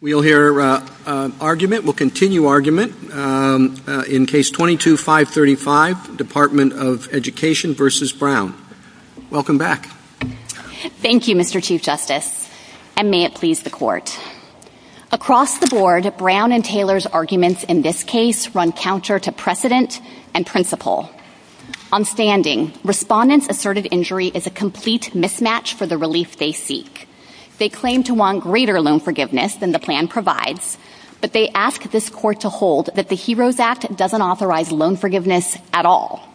We'll hear argument, we'll continue argument, in Case 22-535, Department of Education v. Brown. Welcome back. Thank you, Mr. Chief Justice, and may it please the Court. Across the board, Brown and Taylor's arguments in this case run counter to precedent and principle. On standing, respondents asserted injury is a complete mismatch for the release they seek. They claim to want greater loan forgiveness than the plan provides, but they ask this Court to hold that the HEROES Act doesn't authorize loan forgiveness at all.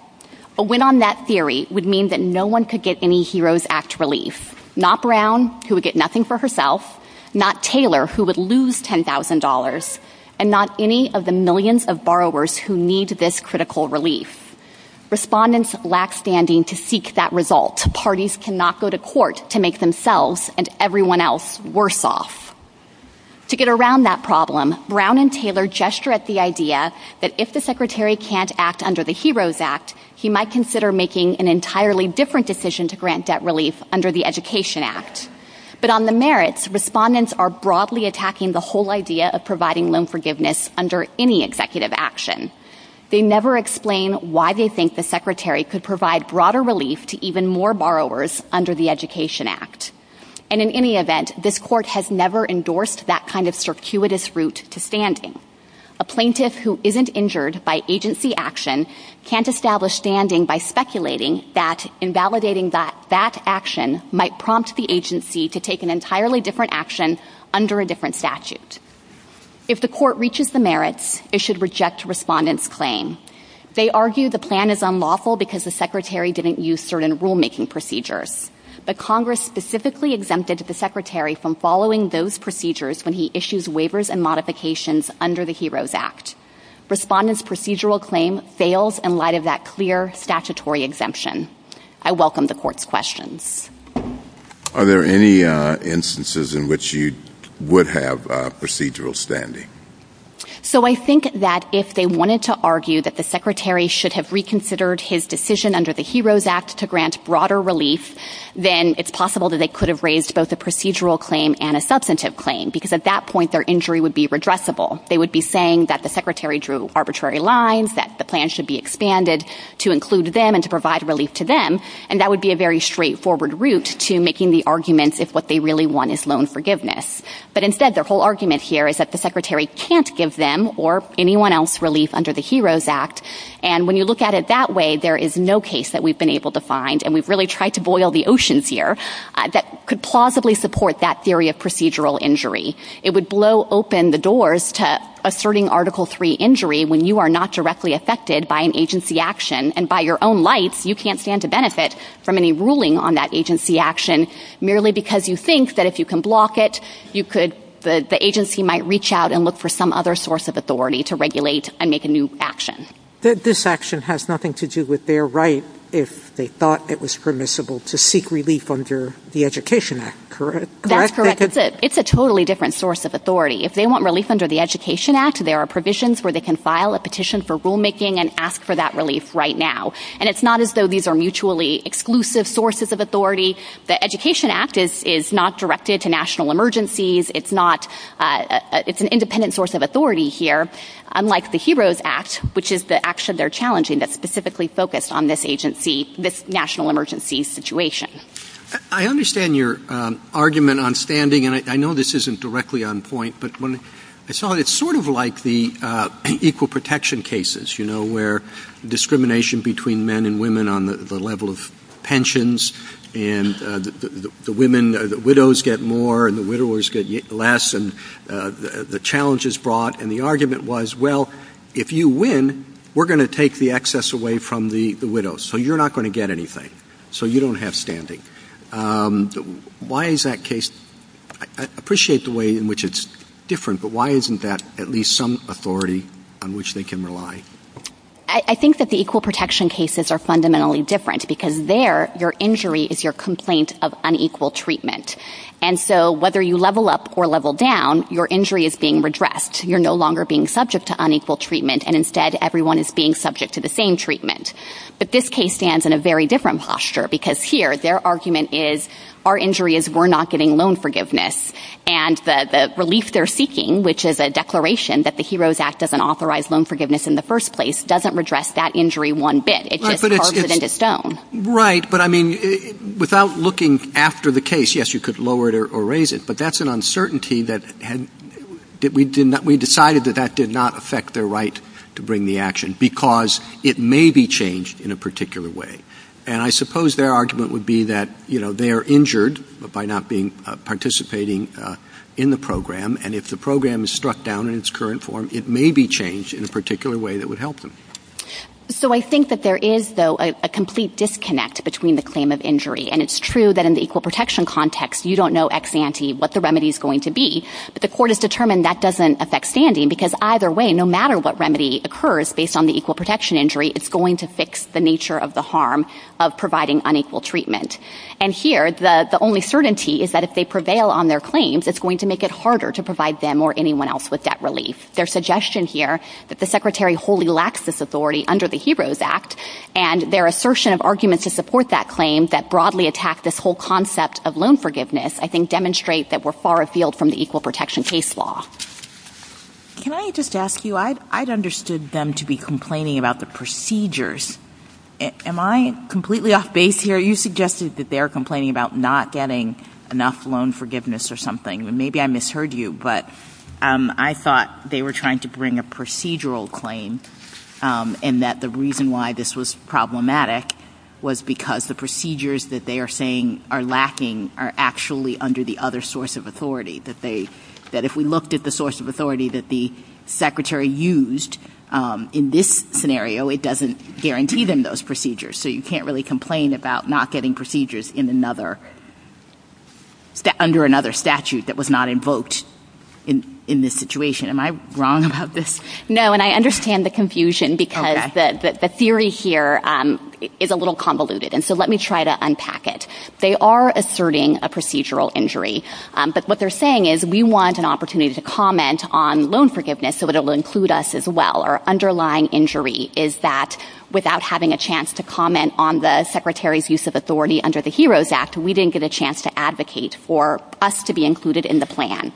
A win on that theory would mean that no one could get any HEROES Act relief, not Brown, who would get nothing for herself, not Taylor, who would lose $10,000, and not any of the millions of borrowers who need this critical relief. Respondents lack standing to seek that result. Parties cannot go to court to make themselves and everyone else worse off. To get around that problem, Brown and Taylor gesture at the idea that if the Secretary can't act under the HEROES Act, he might consider making an entirely different decision to grant debt relief under the Education Act. But on the merits, respondents are broadly attacking the whole idea of providing loan forgiveness under any executive action. They never explain why they think the Secretary could provide broader relief to even more borrowers under the Education Act. And in any event, this Court has never endorsed that kind of circuitous route to standing. A plaintiff who isn't injured by agency action can't establish standing by speculating that invalidating that action might prompt the agency to take an entirely different action under a different statute. If the Court reaches the merits, it should reject respondents' claim. They argue the plan is unlawful because the Secretary didn't use certain rulemaking procedures. But Congress specifically exempted the Secretary from following those procedures when he issues waivers and modifications under the HEROES Act. Respondents' procedural claim fails in light of that clear statutory exemption. I welcome the Court's questions. Are there any instances in which you would have procedural standing? So I think that if they wanted to argue that the Secretary should have reconsidered his decision under the HEROES Act to grant broader relief, then it's possible that they could have raised both a procedural claim and a substantive claim, because at that point their injury would be redressable. They would be saying that the Secretary drew arbitrary lines, that the plan should be expanded to include them and to provide relief to them, and that would be a very straightforward route to making the argument if what they really want is loan forgiveness. But instead, their whole argument here is that the Secretary can't give them or anyone else relief under the HEROES Act, and when you look at it that way, there is no case that we've been able to find, and we've really tried to boil the oceans here, that could plausibly support that theory of procedural injury. It would blow open the doors to asserting Article III injury when you are not directly affected by an agency action, and by your own life, you can't stand to benefit from any ruling on that agency action, merely because you think that if you can block it, the agency might reach out and look for some other source of authority to regulate and make a new action. This action has nothing to do with their right, if they thought it was permissible, to seek relief under the Education Act, correct? That's correct. It's a totally different source of authority. If they want relief under the Education Act, there are provisions where they can file a petition for rulemaking and ask for that relief right now. And it's not as though these are mutually exclusive sources of authority. The Education Act is not directed to national emergencies, it's an independent source of authority here, unlike the HEROES Act, which is the action they're challenging that's specifically focused on this national emergency situation. I understand your argument on standing, and I know this isn't directly on point, but it's sort of like the equal protection cases, you know, where discrimination between men and women on the level of pensions, and the widows get more and the widowers get less, and the challenge is brought, and the argument was, well, if you win, we're going to take the excess away from the widows, so you're not going to get anything, so you don't have standing. Why is that case, I appreciate the way in which it's different, but why isn't that at least some authority on which they can rely? I think that the equal protection cases are fundamentally different, because there, your injury is your complaint of unequal treatment. And so, whether you level up or level down, your injury is being redressed. You're no longer being subject to unequal treatment, and instead, everyone is being subject to the same treatment. But this case stands in a very different posture, because here, their argument is, our injury is we're not getting loan forgiveness, and the relief they're seeking, which is a declaration that the HEROES Act doesn't authorize loan forgiveness in the first place, doesn't redress that injury one bit. It just carves it into stone. Right, but I mean, without looking after the case, yes, you could lower it or raise it, but that's an uncertainty that we decided that that did not affect their right to bring the action, because it may be changed in a particular way. And I suppose their argument would be that, you know, they are injured by not participating in the program, and if the program is struck down in its current form, it may be changed in a particular way that would help them. So I think that there is, though, a complete disconnect between the claim of injury, and it's true that in the equal protection context, you don't know ex ante what the remedy is going to be, but the court has determined that doesn't affect standing, because either way, no matter what remedy occurs based on the equal protection injury, it's going to fix the nature of the harm of providing unequal treatment. And here, the only certainty is that if they prevail on their claims, it's going to make it harder to provide them or anyone else with that relief. Their suggestion here that the Secretary wholly lacks this authority under the HEROES Act, and their assertion of arguments to support that claim that broadly attack this whole concept of loan forgiveness, I think demonstrate that we're far afield from the equal protection case law. Can I just ask you, I'd understood them to be complaining about the procedures. Am I completely off base here? You suggested that they were complaining about not getting enough loan forgiveness or something. Maybe I misheard you, but I thought they were trying to bring a procedural claim, and that the reason why this was problematic was because the procedures that they are saying are lacking are actually under the other source of authority. That if we looked at the source of authority that the Secretary used in this scenario, it doesn't guarantee them those procedures. So you can't really complain about not getting procedures under another statute that was not invoked in this situation. Am I wrong about this? No, and I understand the confusion, because the theory here is a little convoluted. And so let me try to unpack it. They are asserting a procedural injury. But what they're saying is we want an opportunity to comment on loan forgiveness, so it will include us as well. Our underlying injury is that without having a chance to comment on the Secretary's use of authority under the HEROES Act, we didn't get a chance to advocate for us to be included in the plan.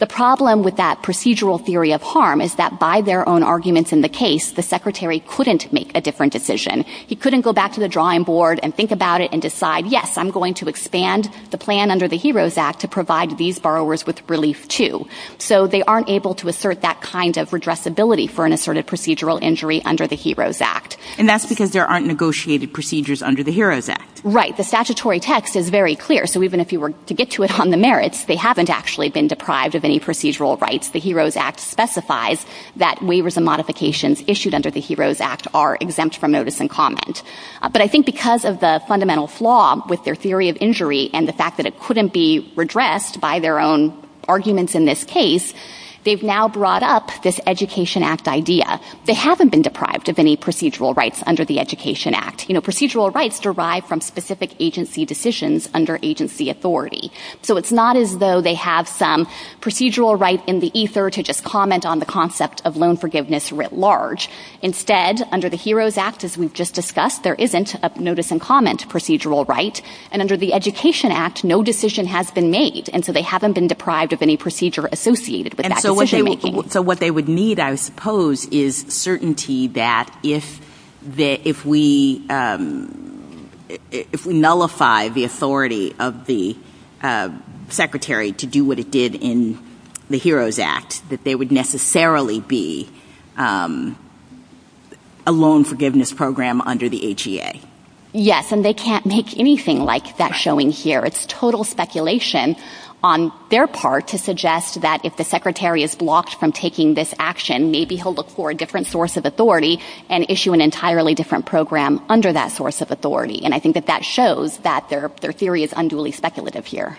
The problem with that procedural theory of harm is that by their own arguments in the case, the Secretary couldn't make a different decision. He couldn't go back to the drawing board and think about it and decide, yes, I'm going to expand the plan under the HEROES Act to provide these borrowers with relief, too. So they aren't able to assert that kind of redressability for an asserted procedural injury under the HEROES Act. And that's because there aren't negotiated procedures under the HEROES Act. Right. The statutory text is very clear. So even if you were to get to it on the merits, they haven't actually been deprived of any procedural rights. The HEROES Act specifies that waivers and modifications issued under the HEROES Act are exempt from notice and comment. But I think because of the fundamental flaw with their theory of injury and the fact that it couldn't be redressed by their own arguments in this case, they've now brought up this Education Act idea. They haven't been deprived of any procedural rights under the Education Act. You know, procedural rights derive from specific agency decisions under agency authority. So it's not as though they have some procedural right in the ESER to just comment on the concept of loan forgiveness writ large. Instead, under the HEROES Act, as we've just discussed, there isn't a notice and comment procedural right. And under the Education Act, no decision has been made. And so they haven't been deprived of any procedure associated with that decision making. So what they would need, I suppose, is certainty that if we nullify the authority of the secretary to do what it did in the HEROES Act, that there would necessarily be a loan forgiveness program under the HEA. Yes, and they can't make anything like that showing here. It's total speculation on their part to suggest that if the secretary is blocked from taking this action, maybe he'll look for a different source of authority and issue an entirely different program under that source of authority. And I think that that shows that their theory is unduly speculative here.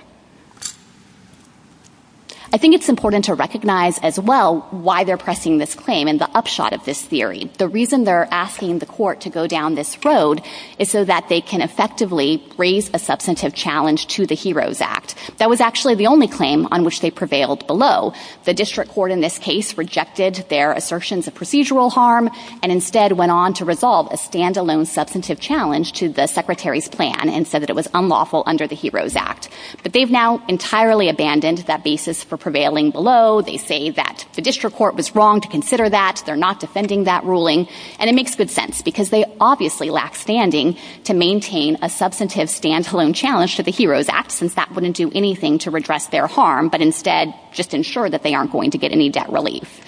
I think it's important to recognize as well why they're pressing this claim and the upshot of this theory. The reason they're asking the court to go down this road is so that they can effectively raise a substantive challenge to the HEROES Act. That was actually the only claim on which they prevailed below. The district court in this case rejected their assertions of procedural harm and instead went on to resolve a standalone substantive challenge to the secretary's plan and said that it was unlawful under the HEROES Act. But they've now entirely abandoned that basis for prevailing below. They say that the district court was wrong to consider that. They're not defending that ruling. And it makes good sense because they obviously lack standing to maintain a substantive standalone challenge to the HEROES Act since that wouldn't do anything to redress their harm, but instead just ensure that they aren't going to get any debt relief.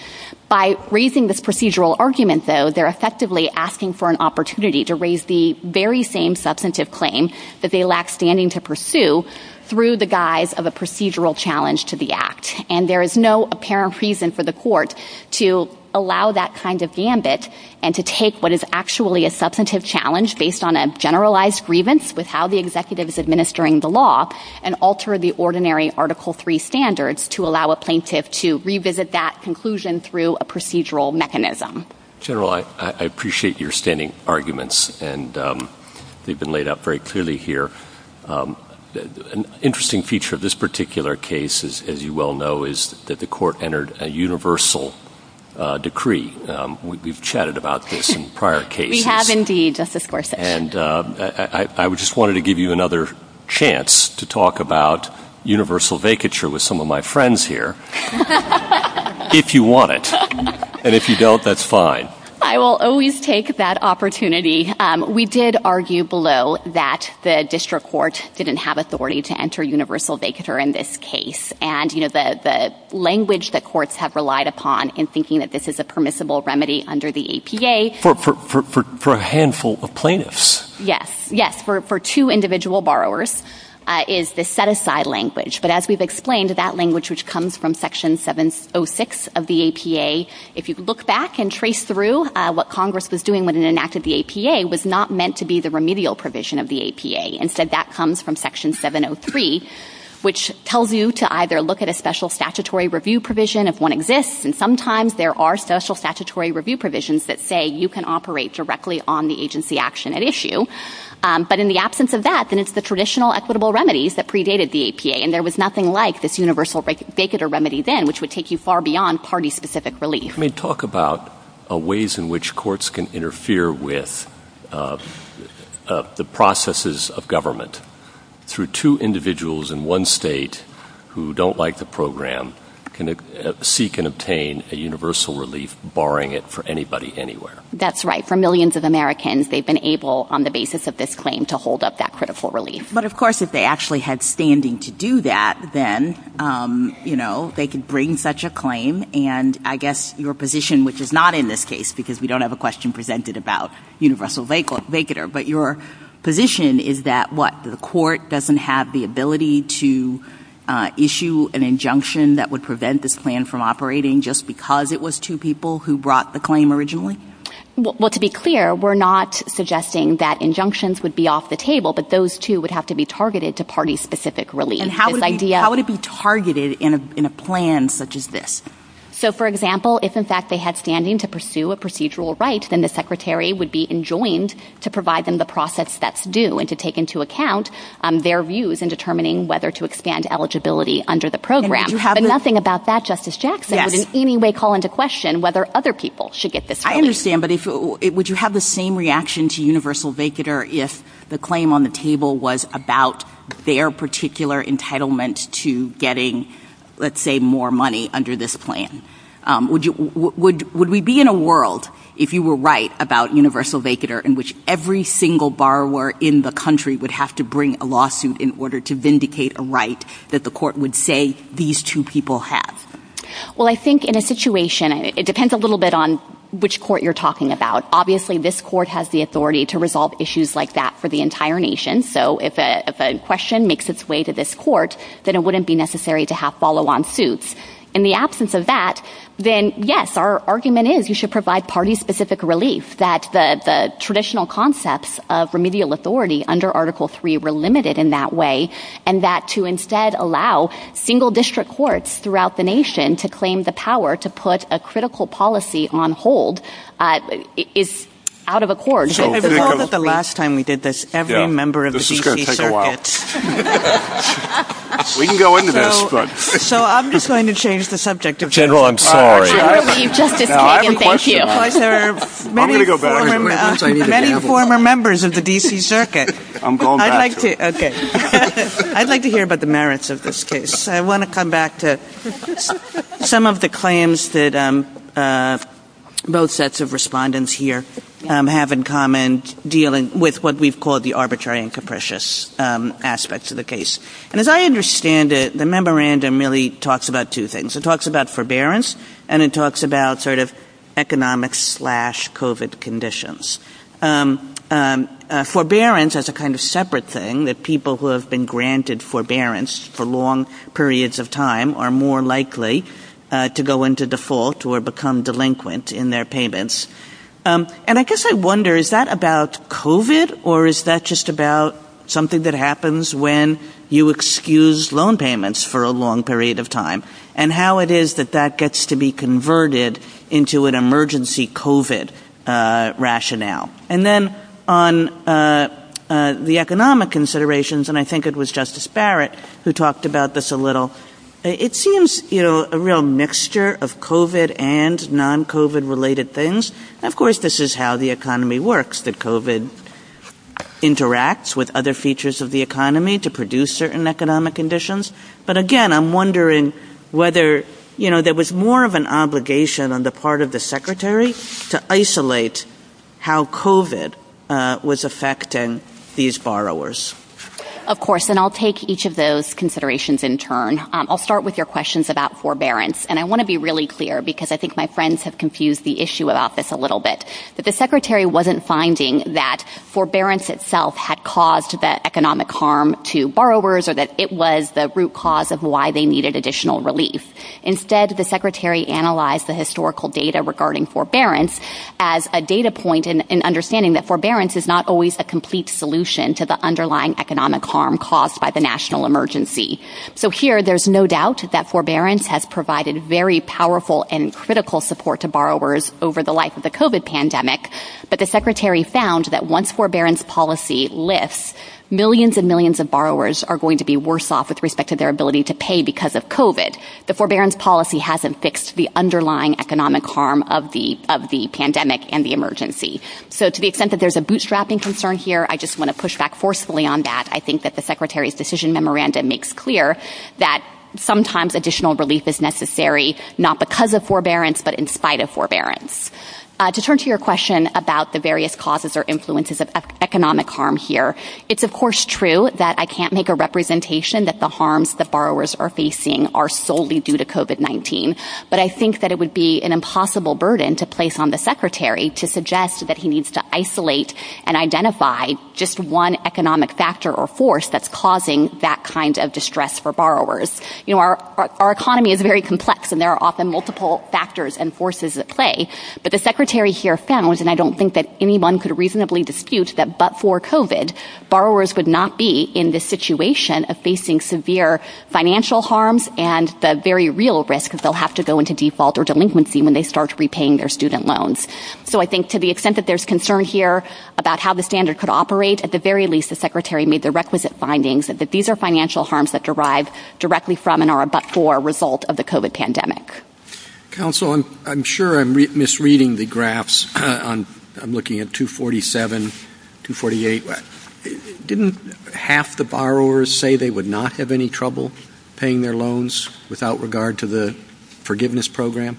By raising this procedural argument, though, they're effectively asking for an opportunity to raise the very same substantive claim that they lack standing to pursue through the guise of a procedural challenge to the Act. And there is no apparent reason for the court to allow that kind of gambit and to take what is actually a substantive challenge based on a generalized grievance with how the executive is administering the law and alter the ordinary Article III standards to allow a plaintiff to revisit that conclusion through a procedural mechanism. General, I appreciate your standing arguments. And they've been laid out very clearly here. An interesting feature of this particular case, as you well know, is that the court entered a universal decree. We've chatted about this in prior cases. We have indeed, Justice Gorsuch. And I just wanted to give you another chance to talk about universal vacature with some of my friends here. If you want it. And if you don't, that's fine. I will always take that opportunity. We did argue below that the district court didn't have authority to enter universal vacature in this case. And the language that courts have relied upon in thinking that this is a permissible remedy under the APA. For a handful of plaintiffs. Yes. For two individual borrowers is the set-aside language. But as we've explained, that language, which comes from Section 706 of the APA, if you look back and trace through what Congress was doing when it enacted the APA, was not meant to be the remedial provision of the APA. Instead, that comes from Section 703, which tells you to either look at a special statutory review provision if one exists. And sometimes there are special statutory review provisions that say you can operate directly on the agency action at issue. But in the absence of that, then it's the traditional equitable remedies that predated the APA. And there was nothing like this universal vacature remedy then, which would take you far beyond party-specific relief. I mean, talk about ways in which courts can interfere with the processes of government. Through two individuals in one state who don't like the program can seek and obtain a universal relief, barring it for anybody anywhere. That's right. For millions of Americans, they've been able, on the basis of this claim, to hold up that critical relief. But of course, if they actually had standing to do that, then, you know, they could bring such a claim. And I guess your position, which is not in this case, because we don't have a question presented about universal vacature, but your position is that, what, the court doesn't have the ability to issue an injunction that would prevent this plan from operating just because it was two people who brought the claim originally? Well, to be clear, we're not suggesting that injunctions would be off the table, but those, too, would have to be targeted to party-specific relief. And how would it be targeted in a plan such as this? So, for example, if, in fact, they had standing to pursue a procedural right, then the secretary would be enjoined to provide them the process that's due, and to take into account their views in determining whether to expand eligibility under the program. But nothing about that, Justice Jackson, would in any way call into question whether other people should get this right. I understand, but would you have the same reaction to universal vacature if the claim on the table was about their particular entitlement to getting, let's say, more money under this plan? Would we be in a world, if you were right, about universal vacature, in which every single borrower in the country would have to bring a lawsuit in order to vindicate a right that the court would say these two people have? Well, I think in a situation, it depends a little bit on which court you're talking about. Obviously, this court has the authority to resolve issues like that for the entire nation, so if a question makes its way to this court, then it wouldn't be necessary to have follow-on suits. In the absence of that, then, yes, our argument is you should provide party-specific relief, that the traditional concepts of remedial authority under Article III were limited in that way, and that to instead allow single-district courts throughout the nation to claim the power to put a critical policy on hold is out of accord. The last time we did this, every member of the D.C. Circuit... This is going to take a while. We can go into this, but... So I'm just going to change the subject. General, I'm sorry. No, I have a question. There are many former members of the D.C. Circuit. I'd like to hear about the merits of this case. I want to come back to some of the claims that both sets of respondents here have in common dealing with what we've called the arbitrary and capricious aspects of the case. And as I understand it, the memorandum really talks about two things. It talks about forbearance, and it talks about sort of economic-slash-COVID conditions. Forbearance is a kind of separate thing, that people who have been granted forbearance for long periods of time are more likely to go into default or become delinquent in their payments. And I guess I wonder, is that about COVID, or is that just about something that happens when you excuse loan payments for a long period of time, and how it is that that gets to be converted into an emergency COVID rationale? And then on the economic considerations, and I think it was Justice Barrett who talked about this a little, it seems a real mixture of COVID and non-COVID-related things. Of course, this is how the economy works, that COVID interacts with other features of the economy to produce certain economic conditions. But again, I'm wondering whether, you know, there was more of an obligation on the part of the Secretary to isolate how COVID was affecting these borrowers. Of course, and I'll take each of those considerations in turn. I'll start with your questions about forbearance. And I want to be really clear, because I think my friends have confused the issue about this a little bit. But the Secretary wasn't finding that forbearance itself had caused that economic harm to borrowers, or that it was the root cause of why they needed additional relief. Instead, the Secretary analyzed the historical data regarding forbearance as a data point in understanding that forbearance is not always the complete solution to the underlying economic harm caused by the national emergency. So here, there's no doubt that forbearance has provided very powerful and critical support to borrowers over the life of the COVID pandemic. But the Secretary found that once forbearance policy lifts, millions and millions of borrowers are going to be worse off with respect to their ability to pay because of COVID. The forbearance policy hasn't fixed the underlying economic harm of the pandemic and the emergency. So to the extent that there's a bootstrapping concern here, I just want to push back forcefully on that. I think that the Secretary's decision memorandum makes clear that sometimes additional relief is necessary, not because of forbearance, but in spite of forbearance. To turn to your question about the various causes or influences of economic harm here, it's of course true that I can't make a representation that the harms that borrowers are facing are solely due to COVID-19. But I think that it would be an impossible burden to place on the Secretary to suggest that he needs to isolate and identify just one economic factor or force that's causing that kind of distress for borrowers. Our economy is very complex, and there are often multiple factors and forces at play, but the Secretary here found, and I don't think that anyone could reasonably dispute, that but for COVID, borrowers would not be in this situation of facing severe financial harms and the very real risk is they'll have to go into default or delinquency when they start repaying their student loans. So I think to the extent that there's concern here about how the standard could operate, at the very least, the Secretary made the requisite findings that these are financial harms that derive directly from and are but for a result of the COVID pandemic. Counsel, I'm sure I'm misreading the graphs. I'm looking at 247, 248. Didn't half the borrowers say they would not have any trouble paying their loans without regard to the forgiveness program?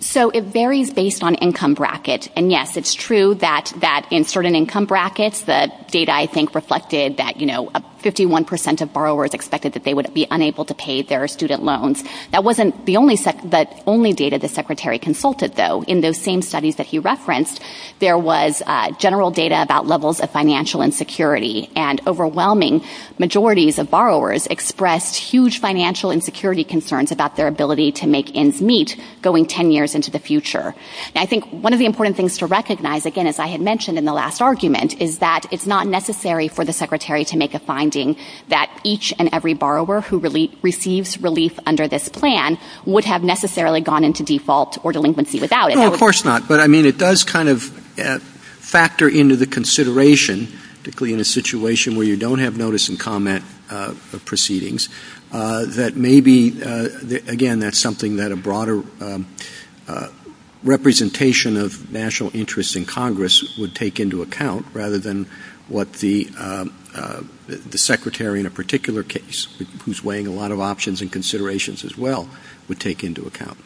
So it varies based on income bracket. And yes, it's true that in certain income brackets, the data, I think, reflected that, you know, 51% of borrowers expected that they would be unable to pay their student loans. That wasn't the only data the Secretary consulted, though. In those same studies that he referenced, there was general data about levels of financial insecurity and overwhelming majorities of borrowers expressed huge financial insecurity concerns about their ability to make ends meet going 10 years into the future. And I think one of the important things to recognize, again, as I had mentioned in the last argument, is that it's not necessary for the Secretary to make a finding that each and every borrower who receives relief under this plan would have necessarily gone into default or delinquency without it. No, of course not. But, I mean, it does kind of factor into the consideration, particularly in a situation where you don't have notice and comment of proceedings, that maybe, again, that's something that a broader representation of national interest in Congress would take into account rather than what the Secretary in a particular case, who's weighing a lot of options and considerations as well, would take into account.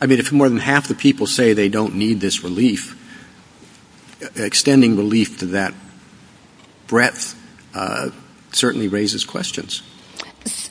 I mean, if more than half the people say they don't need this relief, extending relief to that breadth certainly raises questions.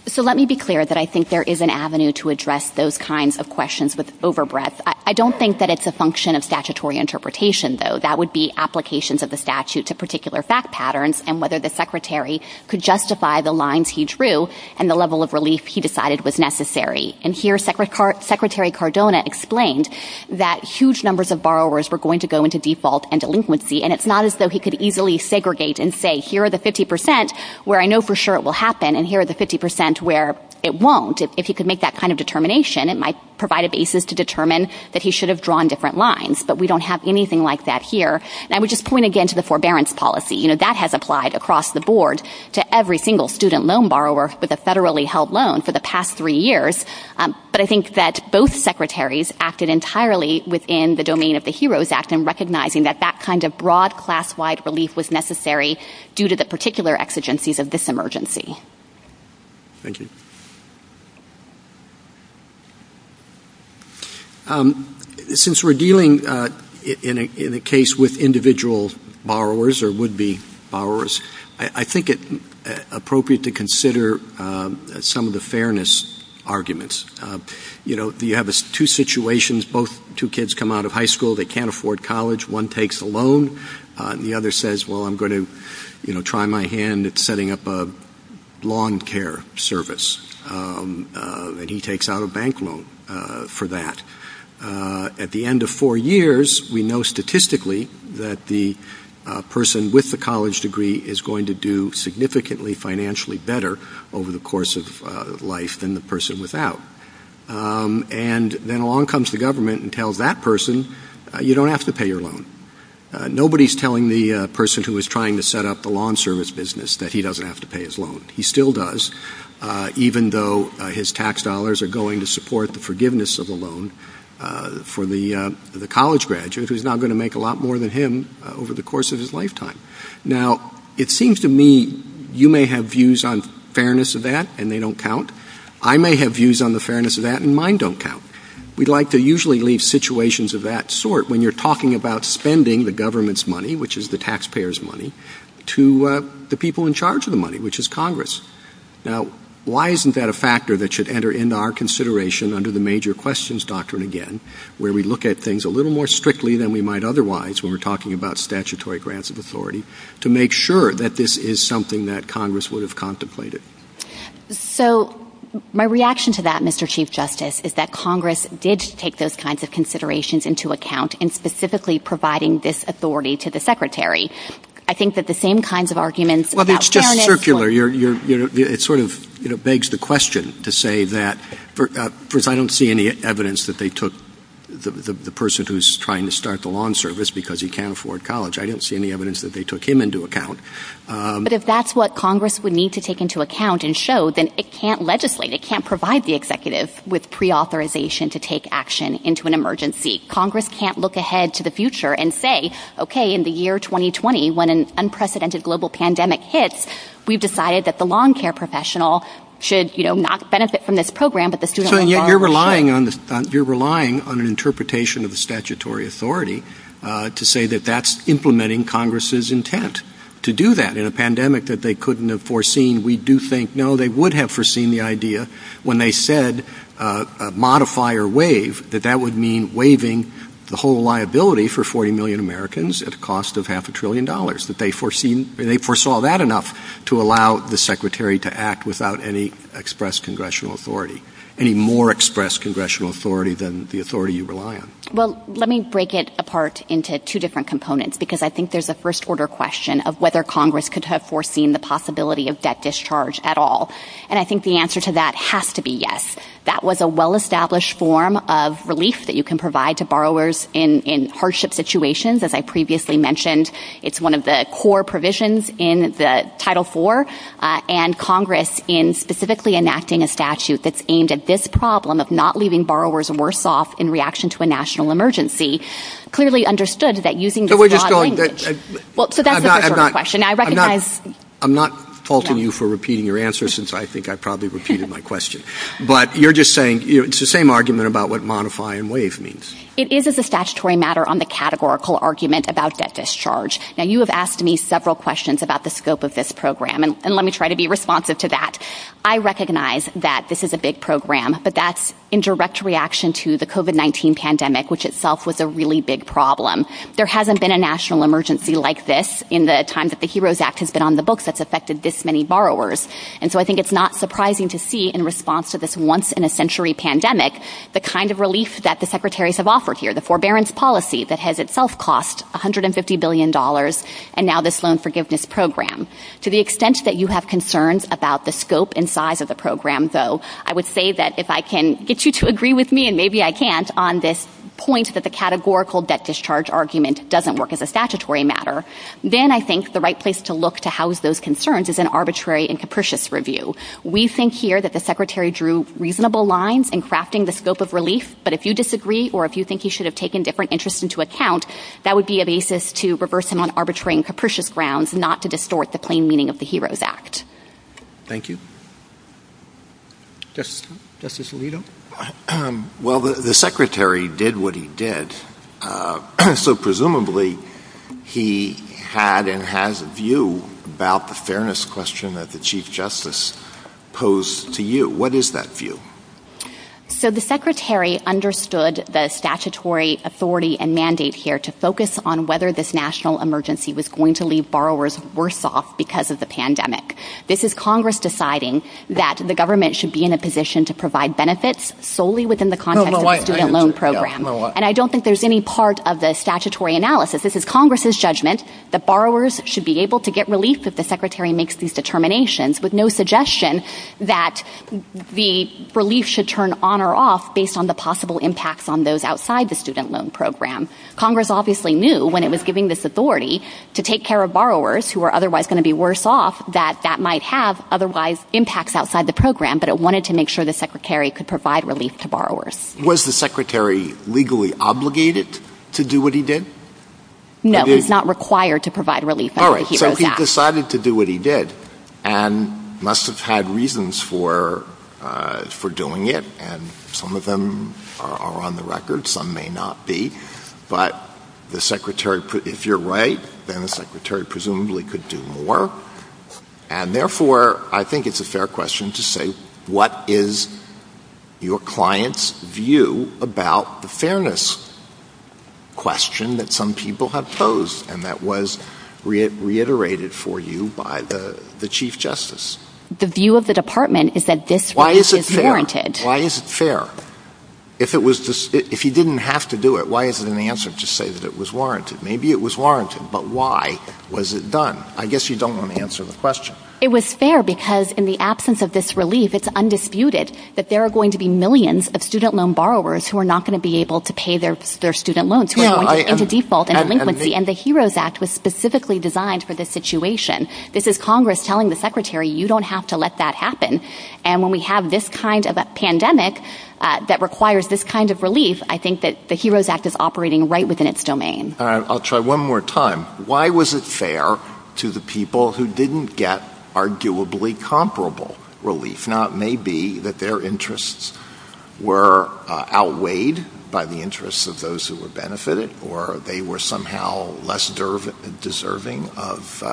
So let me be clear that I think there is an avenue to address those kinds of questions with over breadth. I don't think that it's a function of statutory interpretation, though. I think that would be applications of the statute to particular fact patterns and whether the Secretary could justify the lines he drew and the level of relief he decided was necessary. And here Secretary Cardona explained that huge numbers of borrowers were going to go into default and delinquency, and it's not as though he could easily segregate and say, here are the 50% where I know for sure it will happen, and here are the 50% where it won't. If he could make that kind of determination, it might provide a basis to determine that he should have drawn different lines. But we don't have anything like that here. And I would just point again to the forbearance policy. You know, that has applied across the board to every single student loan borrower with a federally held loan for the past three years. But I think that both Secretaries acted entirely within the domain of the HEROES Act in recognizing that that kind of broad class-wide relief was necessary due to the particular exigencies of this emergency. Thank you. Since we're dealing in a case with individual borrowers or would-be borrowers, I think it's appropriate to consider some of the fairness arguments. You know, you have two situations. Both two kids come out of high school. They can't afford college. One takes a loan, and the other says, well, I'm going to try my hand at setting up a lawn care service. And he takes out a bank loan for that. At the end of four years, we know statistically that the person with the college degree is going to do significantly financially better over the course of life than the person without. And then along comes the government and tells that person, you don't have to pay your loan. Nobody's telling the person who is trying to set up the lawn service business that he doesn't have to pay his loan. He still does, even though his tax dollars are going to support the forgiveness of a loan for the college graduate who's now going to make a lot more than him over the course of his lifetime. Now, it seems to me you may have views on fairness of that, and they don't count. I may have views on the fairness of that, and mine don't count. We'd like to usually leave situations of that sort when you're talking about spending the government's money, which is the taxpayer's money, to the people in charge of the money, which is Congress. Now, why isn't that a factor that should enter into our consideration under the major questions doctrine again, where we look at things a little more strictly than we might otherwise when we're talking about statutory grants of authority, to make sure that this is something that Congress would have contemplated? So, my reaction to that, Mr. Chief Justice, is that Congress did take those kinds of considerations into account in specifically providing this authority to the Secretary. I think that the same kinds of arguments about fairness... Well, it's just circular. It sort of begs the question to say that, first, I don't see any evidence that they took the person who's trying to start the lawn service because he can't afford college. I don't see any evidence that they took him into account. But if that's what Congress would need to take into account and show, then it can't legislate. It can't provide the executive with pre-authorization to take action into an emergency. Congress can't look ahead to the future and say, okay, in the year 2020, when an unprecedented global pandemic hits, we've decided that the lawn care professional should not benefit from this program, but the student... So, you're relying on an interpretation of the statutory authority to say that that's implementing Congress's intent to do that. In a pandemic that they couldn't have foreseen, we do think, you know, they would have foreseen the idea when they said a modifier waive, that that would mean waiving the whole liability for 40 million Americans at the cost of half a trillion dollars, that they foresaw that enough to allow the Secretary to act without any express congressional authority, any more express congressional authority than the authority you rely on. Well, let me break it apart into two different components, because I think there's a first-order question of whether Congress could have foreseen the possibility of debt discharge at all. And I think the answer to that has to be yes. That was a well-established form of relief that you can provide to borrowers in hardship situations, as I previously mentioned. It's one of the core provisions in the Title IV. And Congress, in specifically enacting a statute that's aimed at this problem of not leaving borrowers worse off in reaction to a national emergency, clearly understood that using the broad language. So that's the first-order question. I'm not faulting you for repeating your answer, since I think I probably repeated my question. But you're just saying it's the same argument about what modify and waive means. It is as a statutory matter on the categorical argument about debt discharge. Now, you have asked me several questions about the scope of this program, and let me try to be responsive to that. I recognize that this is a big program, but that's in direct reaction to the COVID-19 pandemic, which itself was a really big problem. There hasn't been a national emergency like this in the time that the HEROES Act has been on the books that's affected this many borrowers. And so I think it's not surprising to see, in response to this once-in-a-century pandemic, the kind of relief that the secretaries have offered here, the forbearance policy that has itself cost $150 billion, and now this loan forgiveness program. To the extent that you have concerns about the scope and size of the program, though, I would say that if I can get you to agree with me, and maybe I can't, on this point that the categorical debt discharge argument doesn't work as a statutory matter, then I think the right place to look to house those concerns is an arbitrary and capricious review. We think here that the secretary drew reasonable lines in crafting the scope of relief, but if you disagree or if you think he should have taken different interests into account, that would be a basis to reverse him on arbitrary and capricious grounds, not to distort the plain meaning of the HEROES Act. Thank you. Justice Alito? Well, the secretary did what he did, so presumably he had and has a view about the fairness question that the Chief Justice posed to you. What is that view? So the secretary understood the statutory authority and mandate here to focus on whether this national emergency was going to leave borrowers worse off because of the pandemic. This is Congress deciding that the government should be in a position to provide benefits solely within the context of the student loan program. And I don't think there's any part of the statutory analysis. This is Congress's judgment that borrowers should be able to get relief if the secretary makes these determinations, with no suggestion that the relief should turn on or off based on the possible impacts on those outside the student loan program. Congress obviously knew when it was giving this authority to take care of borrowers who are otherwise going to be worse off that that might have otherwise impacts outside the program, but it wanted to make sure the secretary could provide relief to borrowers. Was the secretary legally obligated to do what he did? He decided to do what he did and must have had reasons for doing it, and some of them are on the record, some may not be. But if you're right, then the secretary presumably could do more. And therefore, I think it's a fair question to say, what is your client's view about the fairness question that some people have posed and that was reiterated for you by the chief justice? The view of the department is that this relief is warranted. Why is it fair? If he didn't have to do it, why is it in the answer to say that it was warranted? Maybe it was warranted, but why was it done? I guess you don't want to answer the question. It was fair because in the absence of this relief, it's undisputed that there are going to be millions of student loan borrowers who are not going to be able to pay their student loans into default and delinquency, and the HEROES Act was specifically designed for this situation. This is Congress telling the secretary, you don't have to let that happen. And when we have this kind of a pandemic that requires this kind of relief, I think that the HEROES Act is operating right within its domain. I'll try one more time. Why was it fair to the people who didn't get arguably comparable relief? It may be that their interests were outweighed by the interests of those who were benefited or they were somehow less deserving of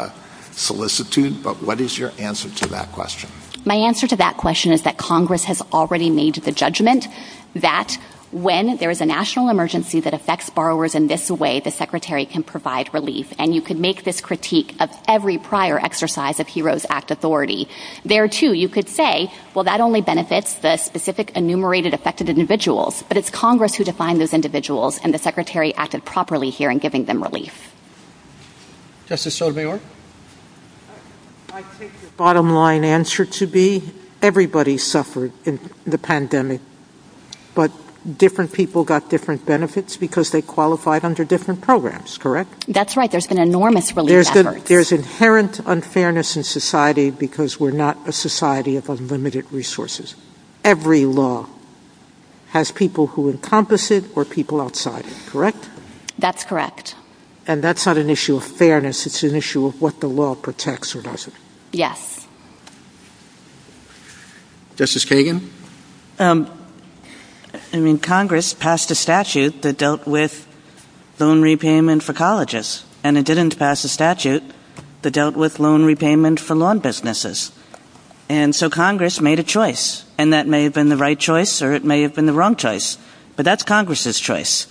solicitude, but what is your answer to that question? My answer to that question is that Congress has already made the judgment that when there is a national emergency that affects borrowers in this way, the secretary can provide relief, and you can make this critique of every prior exercise of HEROES Act authority. There, too, you could say, well, that only benefits the specific enumerated affected individuals, but it's Congress who defined those individuals, and the secretary acted properly here in giving them relief. Justice Sotomayor? I think the bottom line answer to be everybody suffered in the pandemic, but different people got different benefits because they qualified under different programs, correct? That's right. There's been enormous relief efforts. But there's inherent unfairness in society because we're not a society of unlimited resources. Every law has people who encompass it or people outside it, correct? That's correct. And that's not an issue of fairness. It's an issue of what the law protects or doesn't. Yes. Justice Kagan? I mean, Congress passed a statute that dealt with loan repayment for colleges, and it didn't pass a statute that dealt with loan repayment for lawn businesses. And so Congress made a choice, and that may have been the right choice or it may have been the wrong choice, but that's Congress's choice.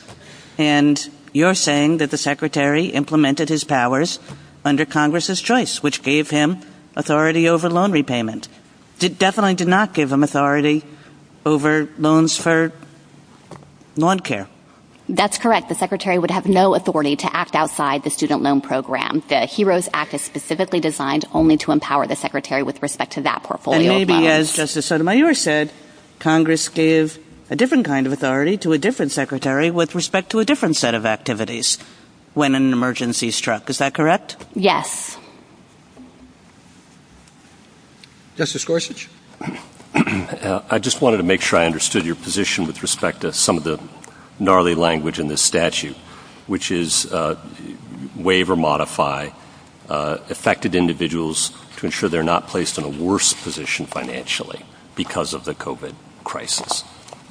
And you're saying that the secretary implemented his powers under Congress's choice, which gave him authority over loan repayment. It definitely did not give him authority over loans for lawn care. That's correct. The secretary would have no authority to act outside the student loan program. The HEROES Act is specifically designed only to empower the secretary with respect to that portfolio. And maybe, as Justice Sotomayor said, Congress gave a different kind of authority to a different secretary with respect to a different set of activities when an emergency struck. Is that correct? Yes. Justice Gorsuch? I just wanted to make sure I understood your position with respect to some of the gnarly language in this statute, which is waive or modify affected individuals to ensure they're not placed in a worse position financially because of the COVID crisis.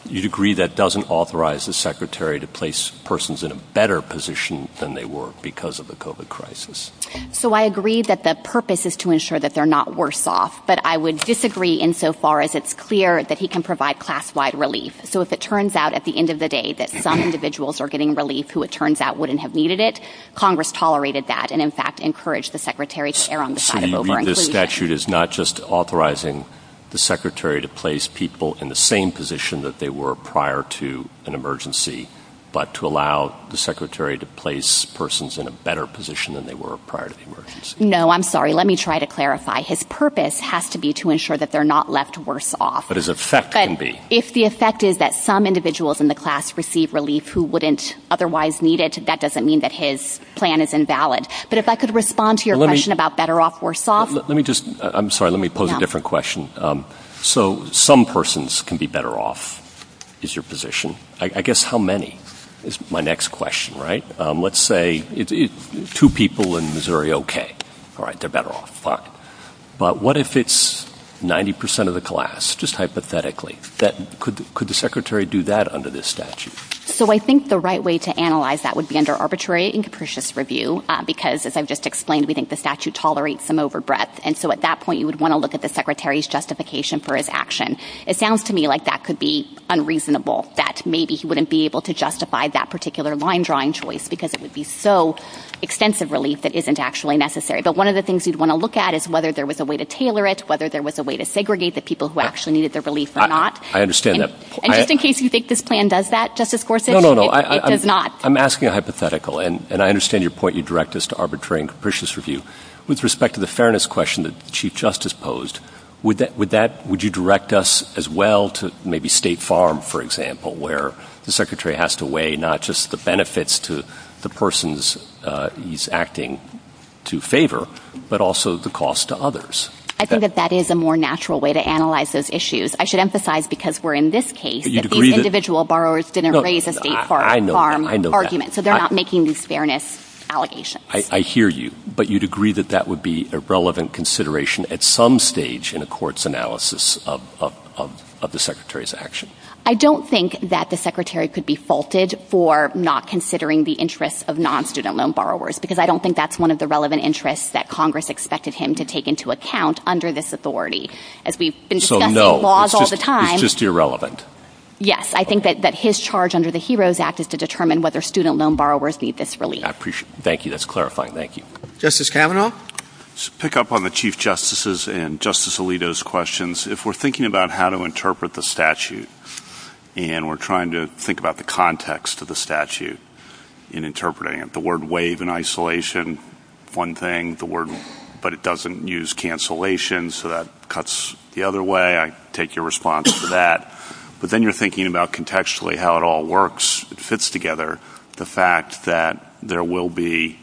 You'd agree that doesn't authorize the secretary to place persons in a better position than they were because of the COVID crisis? So I agree that the purpose is to ensure that they're not worse off, but I would disagree insofar as it's clear that he can provide class-wide relief. So if it turns out at the end of the day that some individuals are getting relief who, it turns out, wouldn't have needed it, Congress tolerated that and, in fact, encouraged the secretary to err on the side of the bar. So this statute is not just authorizing the secretary to place people in the same position that they were prior to an emergency, but to allow the secretary to place persons in a better position than they were prior to the emergency? Let me try to clarify. His purpose has to be to ensure that they're not left worse off. But his effect can be. If the effect is that some individuals in the class receive relief who wouldn't otherwise need it, that doesn't mean that his plan is invalid. But if I could respond to your question about better off, worse off. Let me just, I'm sorry, let me pose a different question. So some persons can be better off is your position. I guess how many is my next question, right? Let's say two people in Missouri, okay. All right, they're better off. But what if it's 90% of the class, just hypothetically? Could the secretary do that under this statute? So I think the right way to analyze that would be under arbitrary and capricious review, because, as I've just explained, we think the statute tolerates some overbreadth. And so at that point, you would want to look at the secretary's justification for his action. It sounds to me like that could be unreasonable, that maybe he wouldn't be able to justify that particular line-drawing choice because it would be so extensive relief that isn't actually necessary. But one of the things you'd want to look at is whether there was a way to tailor it, whether there was a way to segregate the people who actually needed their relief or not. I understand that. And just in case you think this plan does that, Justice Gorsuch, it does not. I'm asking a hypothetical. And I understand your point you direct us to arbitrary and capricious review. With respect to the fairness question that the Chief Justice posed, would you direct us as well to maybe State Farm, for example, where the secretary has to weigh not just the benefits to the persons he's acting to favor, but also the cost to others? I think that that is a more natural way to analyze those issues. I should emphasize, because we're in this case, that the individual borrowers didn't raise a State Farm argument, so they're not making these fairness allegations. I hear you. But you'd agree that that would be a relevant consideration at some stage in a court's analysis of the secretary's action? I don't think that the secretary could be faulted for not considering the interest of non-student loan borrowers, because I don't think that's one of the relevant interests that Congress expected him to take into account under this authority. As we've been discussing laws all the time. So, no, it's just irrelevant? Yes. I think that his charge under the HEROES Act is to determine whether student loan borrowers need this relief. I appreciate it. Thank you. That's clarifying. Thank you. Justice Kavanaugh? To pick up on the Chief Justices' and Justice Alito's questions, if we're thinking about how to interpret the statute, and we're trying to think about the context of the statute in interpreting it, the word wave and isolation, one thing, the word, but it doesn't use cancellation, so that cuts the other way. I take your response to that. But then you're thinking about contextually how it all works, the fact that there will be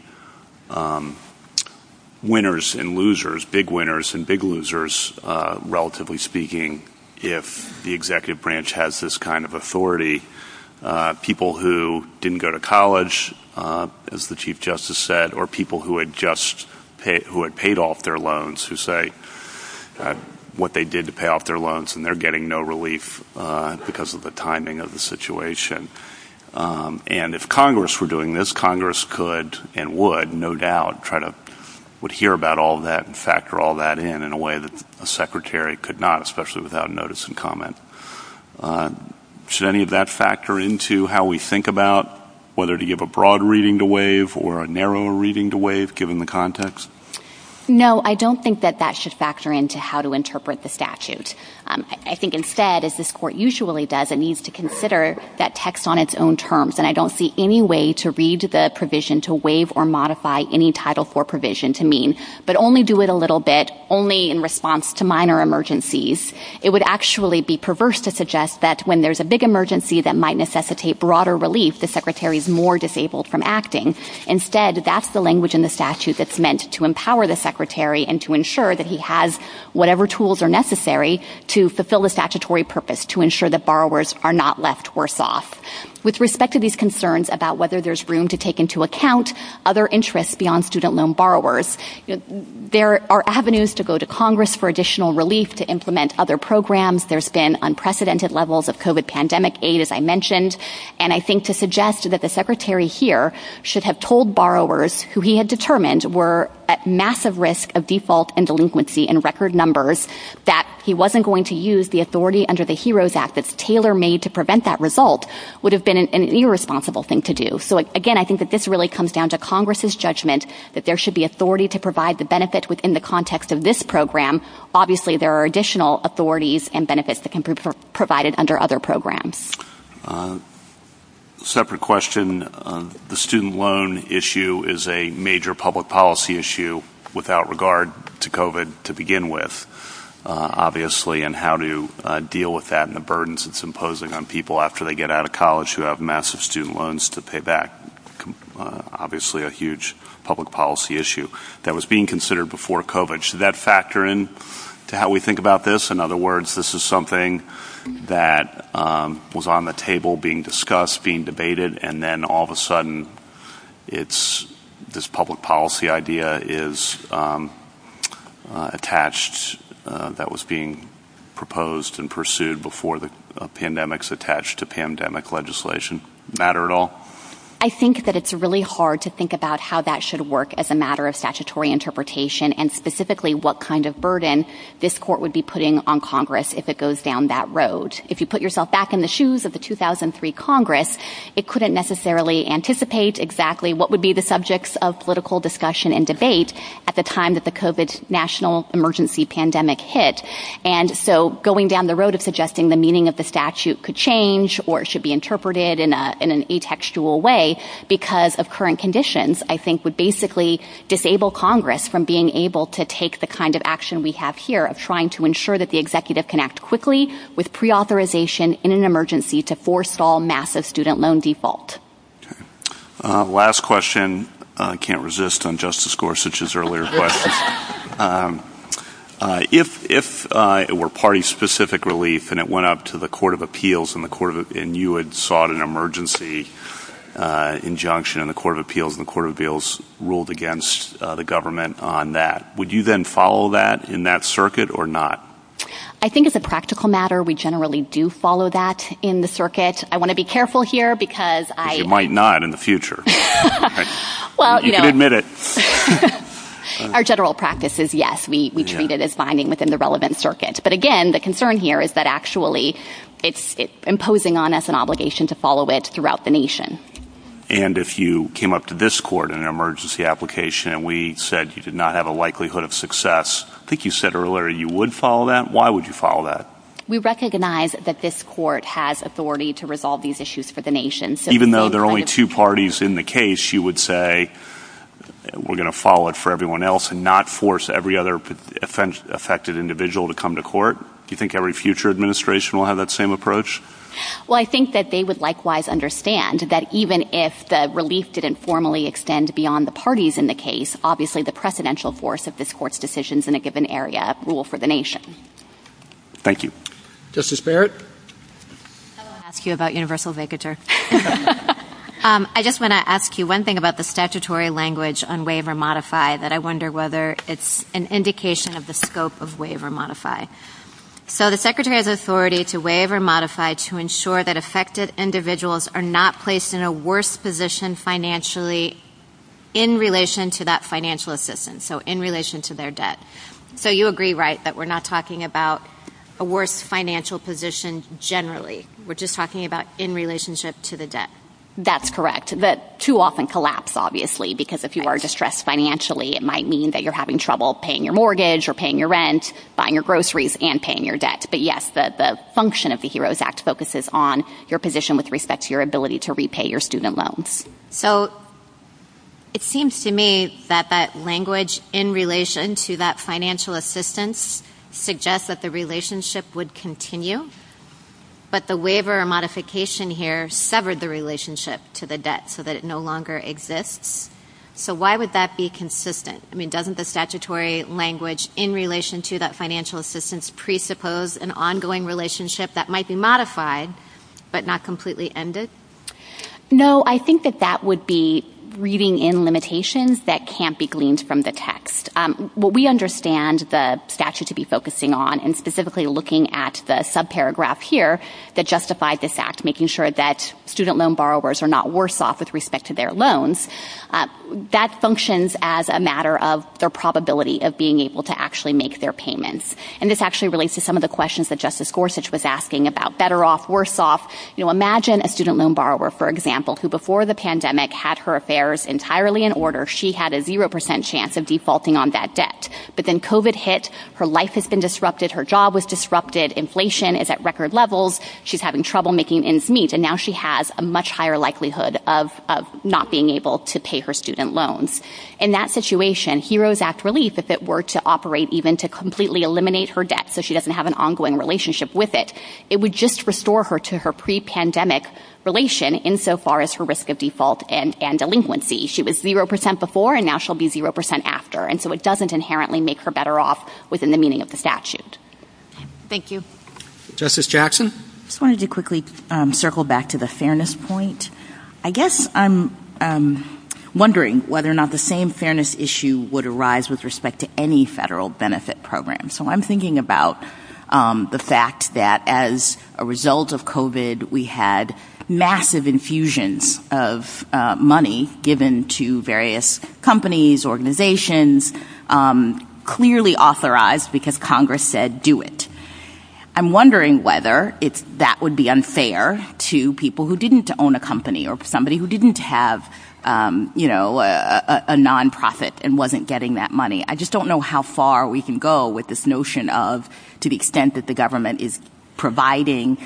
winners and losers, big winners and big losers, relatively speaking, if the executive branch has this kind of authority. People who didn't go to college, as the Chief Justice said, or people who had just paid off their loans who say what they did to pay off their loans, and they're getting no relief because of the timing of the situation. And if Congress were doing this, Congress could and would, no doubt, try to hear about all that and factor all that in in a way that a secretary could not, especially without notice and comment. Should any of that factor into how we think about whether to give a broad reading to wave or a narrow reading to wave, given the context? No, I don't think that that should factor into how to interpret the statute. I think instead, as this court usually does, it needs to consider that text on its own terms, and I don't see any way to read the provision to wave or modify any Title IV provision to mean, but only do it a little bit, only in response to minor emergencies. It would actually be perverse to suggest that when there's a big emergency that might necessitate broader relief, the secretary is more disabled from acting. Instead, that's the language in the statute that's meant to empower the secretary and to ensure that he has whatever tools are necessary to fulfill the statutory purpose, to ensure that borrowers are not left worse off. With respect to these concerns about whether there's room to take into account other interests beyond student loan borrowers, there are avenues to go to Congress for additional relief to implement other programs. There's been unprecedented levels of COVID pandemic aid, as I mentioned, and I think to suggest that the secretary here should have told borrowers who he had determined were at massive risk of default and delinquency in record numbers that he wasn't going to use the authority under the HEROES Act that's tailor-made to prevent that result would have been an irresponsible thing to do. Again, I think that this really comes down to Congress's judgment that there should be authority to provide the benefit within the context of this program. Obviously, there are additional authorities and benefits that can be provided under other programs. Separate question, the student loan issue is a major public policy issue without regard to COVID to begin with, obviously, and how to deal with that and the burdens it's imposing on people after they get out of college who have massive student loans to pay back. Obviously, a huge public policy issue that was being considered before COVID. Should that factor in to how we think about this? In other words, this is something that was on the table being discussed, being debated, and then all of a sudden this public policy idea is attached that was being proposed and pursued before the pandemics attached to pandemic legislation. Matter at all? I think that it's really hard to think about how that should work as a matter of statutory interpretation and specifically what kind of burden this court would be putting on Congress if it goes down that road. If you put yourself back in the shoes of the 2003 Congress, it couldn't necessarily anticipate exactly what would be the subjects of political discussion and debate at the time that the COVID national emergency pandemic hit. Going down the road of suggesting the meaning of the statute could change or it should be interpreted in an atextual way because of current conditions, I think would basically disable Congress from being able to take the kind of action we have here of trying to ensure that the executive can act quickly with preauthorization in an emergency to force all massive student loan default. Last question. I can't resist on Justice Gorsuch's earlier question. If it were party-specific relief and it went up to the Court of Appeals and you had sought an emergency injunction in the Court of Appeals and the Court of Appeals ruled against the government on that, would you then follow that in that circuit or not? I think it's a practical matter. We generally do follow that in the circuit. I want to be careful here because I— You might not in the future. You can admit it. Our general practice is yes. We treat it as binding within the relevant circuit. But again, the concern here is that actually it's imposing on us an obligation to follow it throughout the nation. And if you came up to this court in an emergency application and we said you did not have a likelihood of success, I think you said earlier you would follow that. Why would you follow that? We recognize that this court has authority to resolve these issues for the nation. Even though there are only two parties in the case, you would say we're going to follow it for everyone else to not force every other affected individual to come to court? Do you think every future administration will have that same approach? Well, I think that they would likewise understand that even if the release didn't formally extend beyond the parties in the case, obviously the precedential force of this court's decisions in a given area rule for the nation. Thank you. Justice Barrett? I want to ask you about universal vicature. I just want to ask you one thing about the statutory language, that I wonder whether it's an indication of the scope of waive or modify. So the secretary has authority to waive or modify to ensure that affected individuals are not placed in a worse position financially in relation to that financial assistance, so in relation to their debt. So you agree, right, that we're not talking about a worse financial position generally. We're just talking about in relationship to the debt. That's correct. The two often collapse, obviously, because if you are distressed financially, it might mean that you're having trouble paying your mortgage or paying your rent, buying your groceries, and paying your debt. But yes, the function of the HEROES Act focuses on your position with respect to your ability to repay your student loans. So it seems to me that that language in relation to that financial assistance suggests that the relationship would continue, but the waiver or modification here severed the relationship to the debt so that it no longer exists. So why would that be consistent? I mean, doesn't the statutory language in relation to that financial assistance presuppose an ongoing relationship that might be modified but not completely ended? No, I think that that would be reading in limitations that can't be gleaned from the text. What we understand the statute to be focusing on and specifically looking at the subparagraph here that justified this act, making sure that student loan borrowers are not worse off with respect to their loans, that functions as a matter of their probability of being able to actually make their payments. And this actually relates to some of the questions that Justice Gorsuch was asking about better off, worse off. Imagine a student loan borrower, for example, who before the pandemic had her affairs entirely in order. She had a 0% chance of defaulting on that debt. But then COVID hit. Her life has been disrupted. Her job was disrupted. Inflation is at record levels. She's having trouble making ends meet. And now she has a much higher likelihood of not being able to pay her student loans. In that situation, Heroes Act relief, if it were to operate even to completely eliminate her debt so she doesn't have an ongoing relationship with it, it would just restore her to her pre-pandemic relation insofar as her risk of default and delinquency. She was 0% before and now she'll be 0% after. And so it doesn't inherently make her better off within the meaning of the statute. Thank you. Justice Jackson? I just wanted to quickly circle back to the fairness point. I guess I'm wondering whether or not the same fairness issue would arise with respect to any federal benefit program. So I'm thinking about the fact that as a result of COVID, we had massive infusions of money given to various companies, organizations, clearly authorized because Congress said do it. I'm wondering whether that would be unfair to people who didn't own a company or somebody who didn't have a nonprofit and wasn't getting that money. I just don't know how far we can go with this notion of, to the extent that the government is providing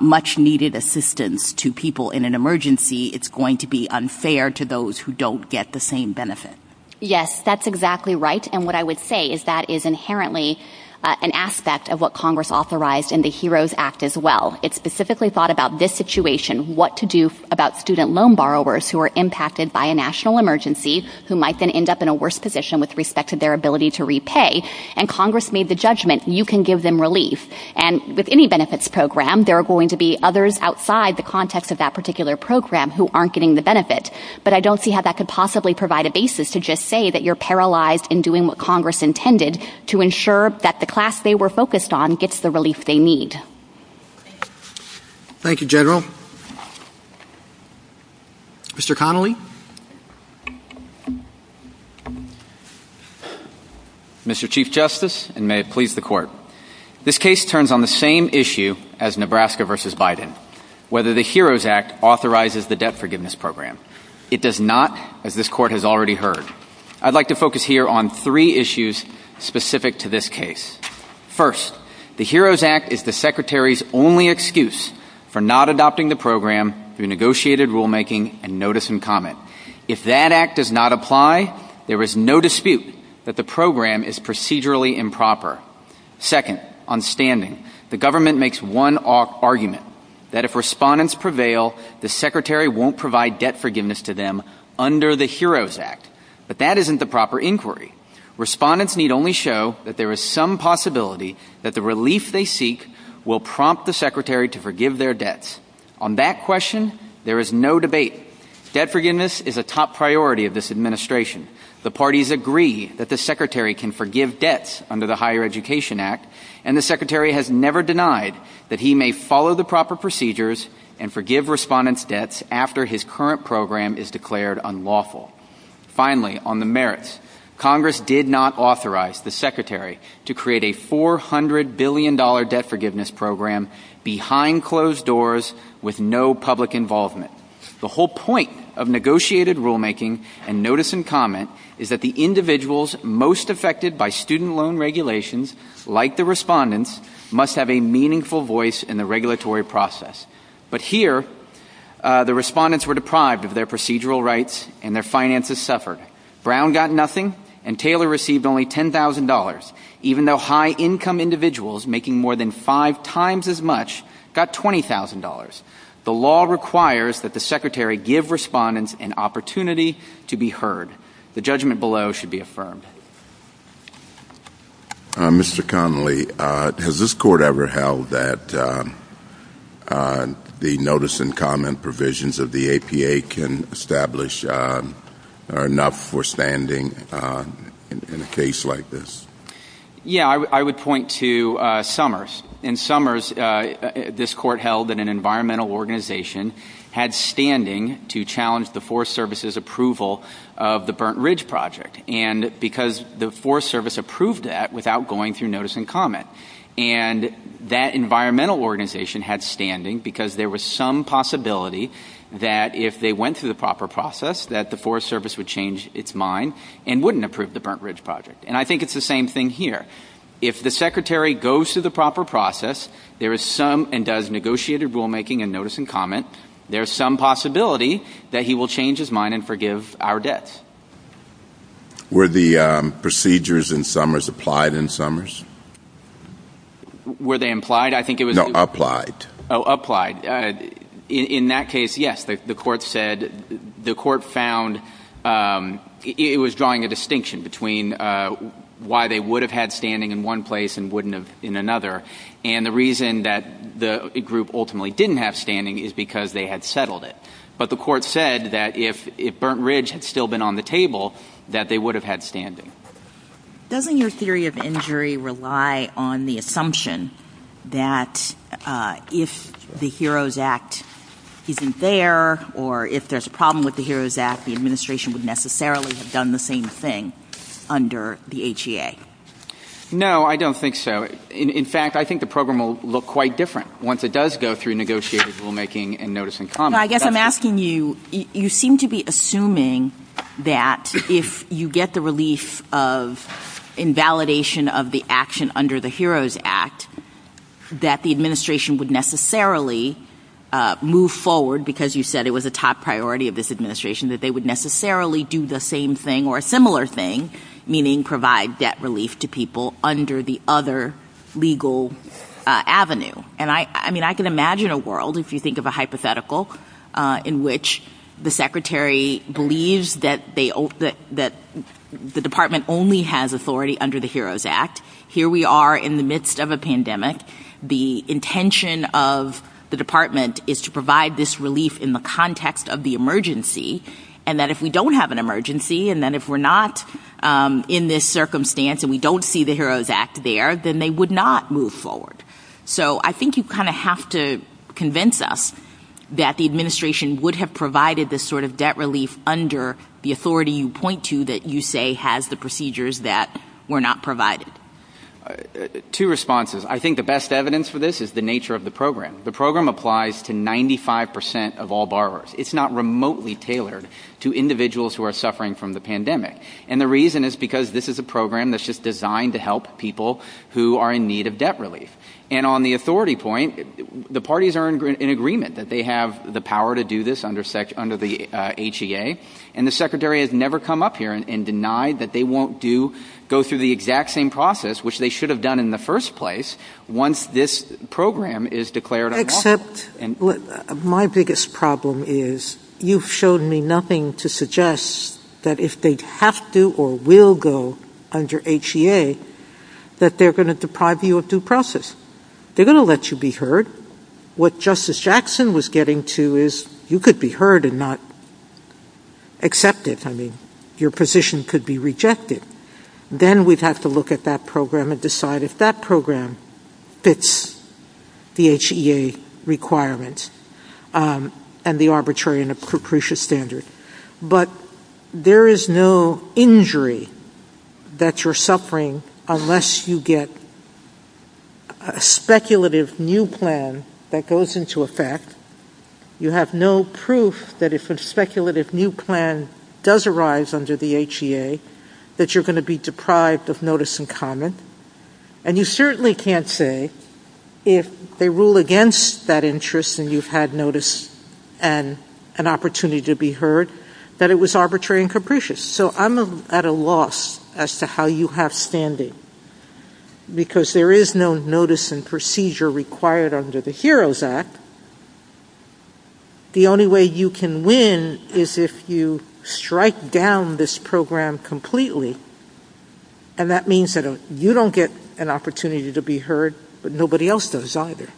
much-needed assistance to people in an emergency, it's going to be unfair to those who don't get the same benefit. Yes, that's exactly right. And what I would say is that is inherently an aspect of what Congress authorized in the HEROES Act as well. It specifically thought about this situation, what to do about student loan borrowers who are impacted by a national emergency who might then end up in a worse position with respect to their ability to repay. And Congress made the judgment you can give them relief. And with any benefits program, there are going to be others outside the context of that particular program who aren't getting the benefit. But I don't see how that could possibly provide a basis to just say that you're paralyzed in doing what Congress intended to ensure that the class they were focused on gets the relief they need. Thank you, General. Mr. Connolly? Mr. Chief Justice, and may it please the Court, this case turns on the same issue as Nebraska v. Biden, whether the HEROES Act authorizes the debt forgiveness program. It does not, as this Court has already heard. I'd like to focus here on three issues specific to this case. First, the HEROES Act is the Secretary's only excuse for not adopting the program through negotiated rulemaking and notice and comment. If that act does not apply, there is no dispute that the program is procedurally improper. Second, on standing, the government makes one argument that if respondents prevail, the Secretary won't provide debt forgiveness to them under the HEROES Act. But that isn't the proper inquiry. Respondents need only show that there is some possibility that the relief they seek will prompt the Secretary to forgive their debts. On that question, there is no debate. Debt forgiveness is a top priority of this administration. The parties agree that the Secretary can forgive debts under the Higher Education Act, and the Secretary has never denied that he may follow the proper procedures and forgive respondents' debts after his current program is declared unlawful. Finally, on the merits, Congress did not authorize the Secretary to create a $400 billion debt forgiveness program behind closed doors with no public involvement. The whole point of negotiated rulemaking and notice and comment is that the individuals most affected by student loan regulations, like the respondents, must have a meaningful voice in the regulatory process. But here, the respondents were deprived of their procedural rights and their finances suffered. Brown got nothing, and Taylor received only $10,000, even though high-income individuals making more than five times as much got $20,000. The law requires that the Secretary give respondents an opportunity to be heard. The judgment below should be affirmed. Mr. Connolly, has this Court ever held that the notice and comment provisions of the APA can establish enough for standing in a case like this? Yeah, I would point to Summers. In Summers, this Court held that an environmental organization had standing to challenge the Forest Service's approval of the Burnt Ridge Project, because the Forest Service approved that without going through notice and comment. And that environmental organization had standing because there was some possibility that if they went through the proper process, that the Forest Service would change its mind and wouldn't approve the Burnt Ridge Project. And I think it's the same thing here. If the Secretary goes through the proper process, there is some and does negotiated rulemaking and notice and comment, there is some possibility that he will change his mind and forgive our debts. Were the procedures in Summers applied in Summers? Were they implied? I think it was... No, applied. Oh, applied. In that case, yes, the Court found it was drawing a distinction between why they would have had standing in one place and wouldn't have in another. And the reason that the group ultimately didn't have standing is because they had settled it. But the Court said that if Burnt Ridge had still been on the table, that they would have had standing. Doesn't your theory of injury rely on the assumption that if the HEROES Act isn't there or if there's a problem with the HEROES Act, the administration would necessarily have done the same thing under the HEA? No, I don't think so. In fact, I think the program will look quite different once it does go through negotiated rulemaking and notice and comment. I guess I'm asking you, you seem to be assuming that if you get the relief of invalidation of the action under the HEROES Act, that the administration would necessarily move forward because you said it was a top priority of this administration, that they would necessarily do the same thing or a similar thing, meaning provide debt relief to people under the other legal avenue. I mean, I can imagine a world, if you think of a hypothetical, in which the secretary believes that the department only has authority under the HEROES Act. Here we are in the midst of a pandemic. The intention of the department is to provide this relief in the context of the emergency and that if we don't have an emergency and that if we're not in this circumstance and we don't see the HEROES Act there, then they would not move forward. So I think you kind of have to convince us that the administration would have provided this sort of debt relief under the authority you point to that you say has the procedures that were not provided. Two responses. I think the best evidence for this is the nature of the program. The program applies to 95% of all borrowers. It's not remotely tailored to individuals who are suffering from the pandemic. And the reason is because this is a program that's just designed to help people who are in need of debt relief. And on the authority point, the parties are in agreement that they have the power to do this under the HEA, and the secretary has never come up here and denied that they won't go through the exact same process, which they should have done in the first place, once this program is declared unlawful. Except my biggest problem is you've shown me nothing to suggest that if they have to or will go under HEA, that they're going to deprive you of due process. They're going to let you be heard. What Justice Jackson was getting to is you could be heard and not accepted. I mean, your position could be rejected. Then we'd have to look at that program and decide if that program fits the HEA requirements and the arbitrary and the precarious standard. But there is no injury that you're suffering unless you get a speculative new plan that goes into effect. You have no proof that if a speculative new plan does arise under the HEA, that you're going to be deprived of notice and comment. And you certainly can't say if they rule against that interest and you've had notice and an opportunity to be heard, that it was arbitrary and capricious. So I'm at a loss as to how you have standing. Because there is no notice and procedure required under the HEROES Act. The only way you can win is if you strike down this program completely, and that means that you don't get an opportunity to be heard, but nobody else does either.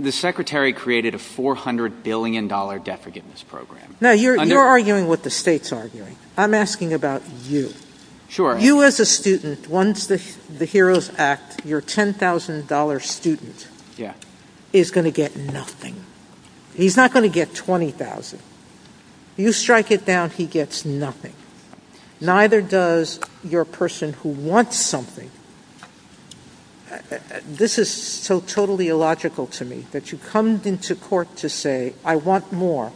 The Secretary created a $400 billion debt forgiveness program. Now, you're arguing what the state's arguing. I'm asking about you. Sure. You as a student, once the HEROES Act, your $10,000 student is going to get nothing. He's not going to get $20,000. You strike it down, he gets nothing. Neither does your person who wants something. This is so totally illogical to me, that you come into court to say, I want more,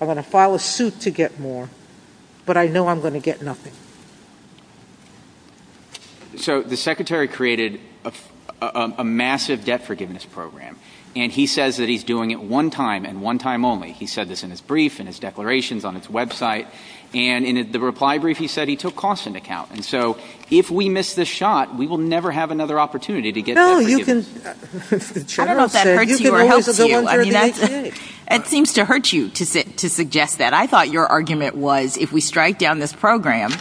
I want to file a suit to get more, but I know I'm going to get nothing. So the Secretary created a massive debt forgiveness program, and he says that he's doing it one time and one time only. He said this in his brief, in his declarations, on his website, and in the reply brief he said he took cost into account. And so if we miss this shot, we will never have another opportunity to get debt forgiveness. I don't know if that hurts you or hurts you. It seems to hurt you to suggest that. I thought your argument was if we strike down this program,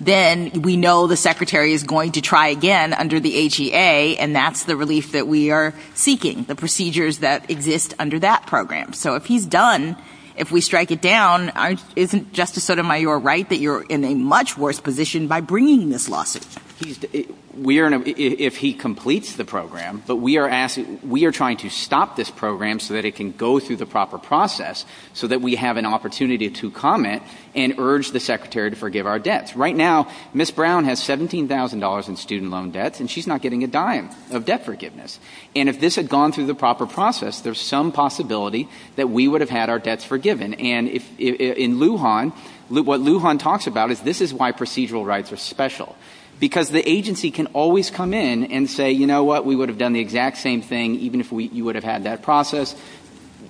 then we know the Secretary is going to try again under the HEA, and that's the release that we are seeking, the procedures that exist under that program. So if he's done, if we strike it down, isn't Justice Sotomayor right that you're in a much worse position by bringing this lawsuit? If he completes the program, but we are trying to stop this program so that it can go through the proper process, so that we have an opportunity to comment and urge the Secretary to forgive our debts. Right now, Ms. Brown has $17,000 in student loan debt, and she's not getting a dime of debt forgiveness. And if this had gone through the proper process, there's some possibility that we would have had our debts forgiven. And in Lujan, what Lujan talks about is this is why procedural rights are special, because the agency can always come in and say, you know what, we would have done the exact same thing even if you would have had that process.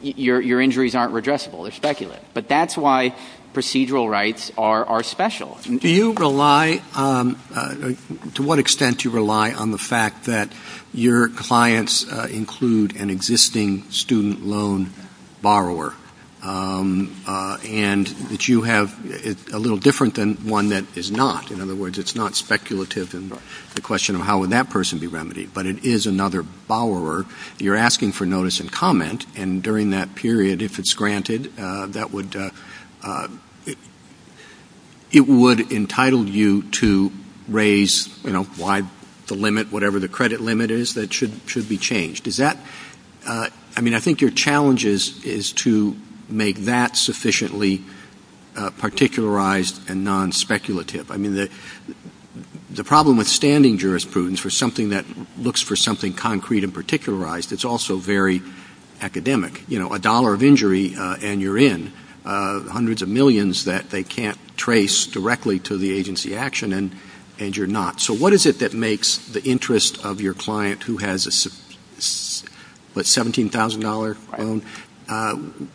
Your injuries aren't redressable. They're speculative. But that's why procedural rights are special. Do you rely, to what extent do you rely on the fact that your clients include an existing student loan borrower, and that you have a little different than one that is not? In other words, it's not speculative in the question of how would that person be remedied, but it is another borrower you're asking for notice and comment, and during that period, if it's granted, it would entitle you to raise the limit, whatever the credit limit is that should be changed. I mean, I think your challenge is to make that sufficiently particularized and non-speculative. I mean, the problem with standing jurisprudence for something that looks for something concrete and particularized, it's also very academic. You know, a dollar of injury and you're in. Hundreds of millions that they can't trace directly to the agency action, and you're not. So what is it that makes the interest of your client who has a $17,000 loan,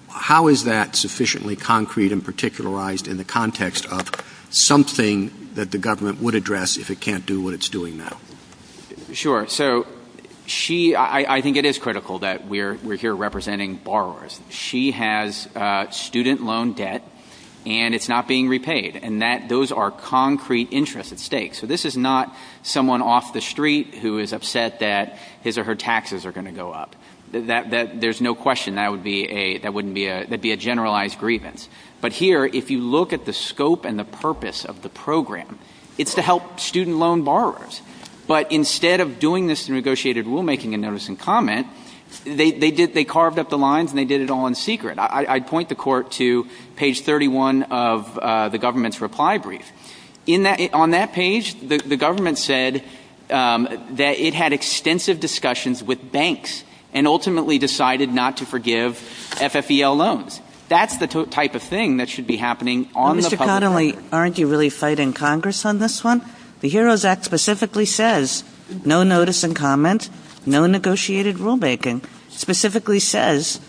how is that sufficiently concrete and particularized in the context of something that the government would address if it can't do what it's doing now? Sure. So I think it is critical that we're here representing borrowers. She has student loan debt, and it's not being repaid, and those are concrete interests at stake. So this is not someone off the street who is upset that his or her taxes are going to go up. There's no question that would be a generalized grievance. But here, if you look at the scope and the purpose of the program, it's to help student loan borrowers. But instead of doing this negotiated rulemaking and noticing comment, they carved up the lines and they did it all in secret. I'd point the court to page 31 of the government's reply brief. On that page, the government said that it had extensive discussions with banks and ultimately decided not to forgive FFEL loans. That's the type of thing that should be happening on the public record. Mr. Connolly, aren't you really fighting Congress on this one? The HEROES Act specifically says no notice and comment, no negotiated rulemaking, specifically says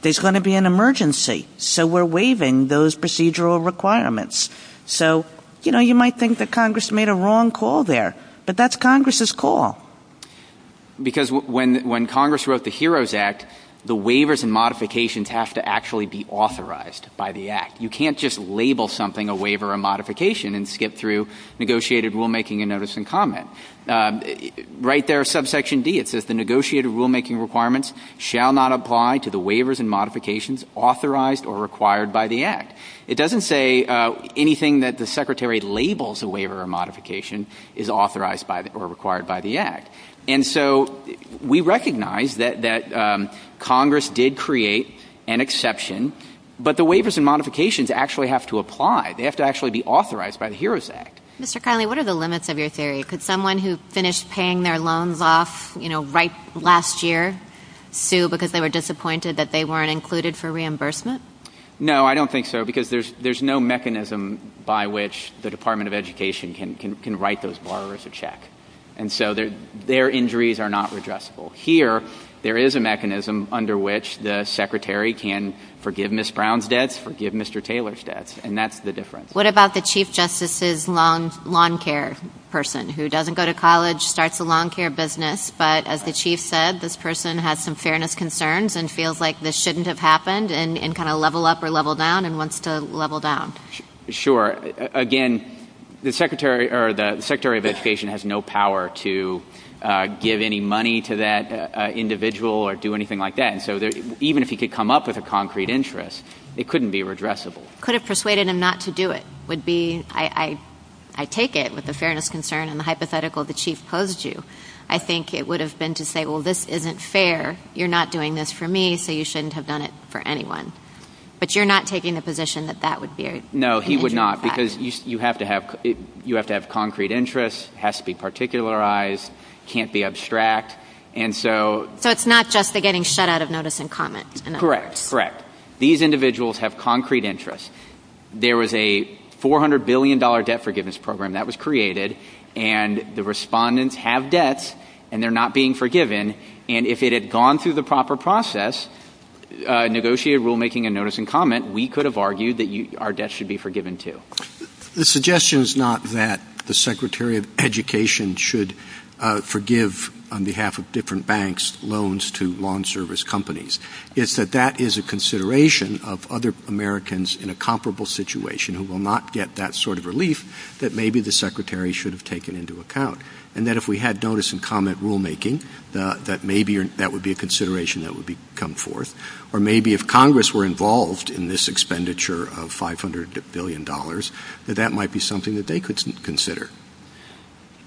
there's going to be an emergency, so we're waiving those procedural requirements. So, you know, you might think that Congress made a wrong call there, but that's Congress's call. Because when Congress wrote the HEROES Act, the waivers and modifications have to actually be authorized by the Act. You can't just label something a waiver or modification and skip through negotiated rulemaking and notice and comment. Right there, subsection D, it says the negotiated rulemaking requirements shall not apply to the waivers and modifications authorized or required by the Act. It doesn't say anything that the Secretary labels a waiver or modification is authorized or required by the Act. And so we recognize that Congress did create an exception, but the waivers and modifications actually have to apply. They have to actually be authorized by the HEROES Act. Mr. Connolly, what are the limits of your theory? Could someone who finished paying their loans off, you know, right last year sue because they were disappointed that they weren't included for reimbursement? No, I don't think so, because there's no mechanism by which the Department of Education can write those borrowers a check. And so their injuries are not redressable. Here, there is a mechanism under which the Secretary can forgive Ms. Brown's debts, forgive Mr. Taylor's debts, and that's the difference. What about the Chief Justice's lawn care person who doesn't go to college, starts a lawn care business, but as the Chief said, this person has some fairness concerns and feels like this shouldn't have happened and kind of level up or level down and wants to level down? Sure. Again, the Secretary of Education has no power to give any money to that individual or do anything like that. And so even if he could come up with a concrete interest, it couldn't be redressable. Could have persuaded him not to do it would be, I take it, with the fairness concern and the hypothetical the Chief posed you, I think it would have been to say, well, this isn't fair. You're not doing this for me, so you shouldn't have done it for anyone. But you're not taking the position that that would be an issue? No, he would not, because you have to have concrete interests. It has to be particularized. It can't be abstract. So it's not just the getting shut out of notice and comments? Correct, correct. These individuals have concrete interests. There was a $400 billion debt forgiveness program that was created, and the respondents have debts, and they're not being forgiven. And if it had gone through the proper process, negotiated rulemaking and notice and comment, we could have argued that our debts should be forgiven, too. The suggestion is not that the Secretary of Education should forgive, on behalf of different banks, loans to law and service companies. It's that that is a consideration of other Americans in a comparable situation who will not get that sort of relief that maybe the Secretary should have taken into account. And that if we had notice and comment rulemaking, that maybe that would be a consideration that would come forth. Or maybe if Congress were involved in this expenditure of $500 billion, that that might be something that they could consider.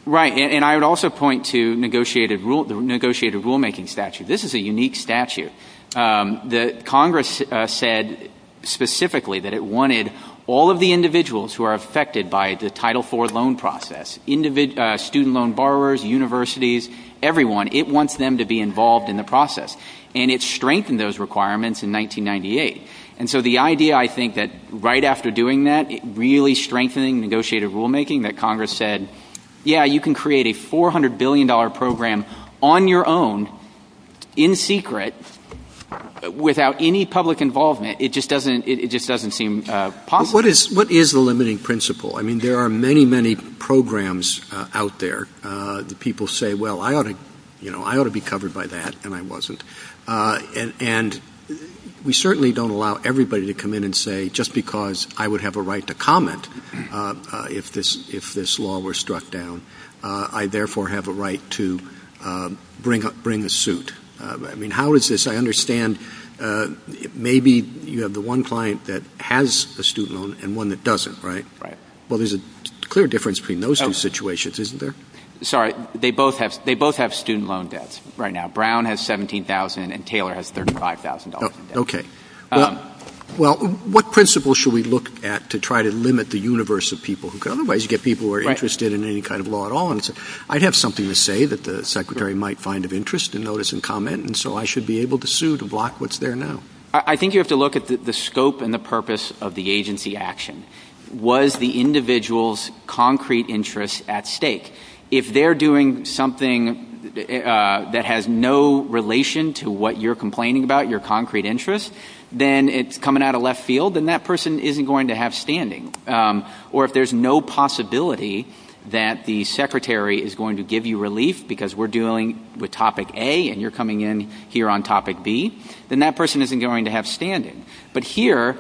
Right, and I would also point to negotiated rulemaking statute. This is a unique statute. Congress said specifically that it wanted all of the individuals who are affected by the Title IV loan process, student loan borrowers, universities, everyone, it wants them to be involved in the process. And it strengthened those requirements in 1998. And so the idea, I think, that right after doing that, really strengthening negotiated rulemaking, that Congress said, yeah, you can create a $400 billion program on your own, in secret, without any public involvement, it just doesn't seem possible. What is the limiting principle? I mean, there are many, many programs out there that people say, well, I ought to be covered by that, and I wasn't. And we certainly don't allow everybody to come in and say just because I would have a right to comment if this law were struck down, I therefore have a right to bring a suit. I mean, how is this? I understand maybe you have the one client that has a student loan and one that doesn't, right? Right. Well, there's a clear difference between those two situations, isn't there? Sorry, they both have student loan debts right now. Brown has $17,000 and Taylor has $35,000. Okay. Well, what principle should we look at to try to limit the universe of people? Because otherwise you get people who are interested in any kind of law at all. I'd have something to say that the secretary might find of interest in notice and comment, and so I should be able to sue to block what's there now. I think you have to look at the scope and the purpose of the agency action. Was the individual's concrete interest at stake? If they're doing something that has no relation to what you're complaining about, your concrete interest, then it's coming out of left field, and that person isn't going to have standing. Or if there's no possibility that the secretary is going to give you relief because we're dealing with topic A and you're coming in here on topic B, then that person isn't going to have standing. But here,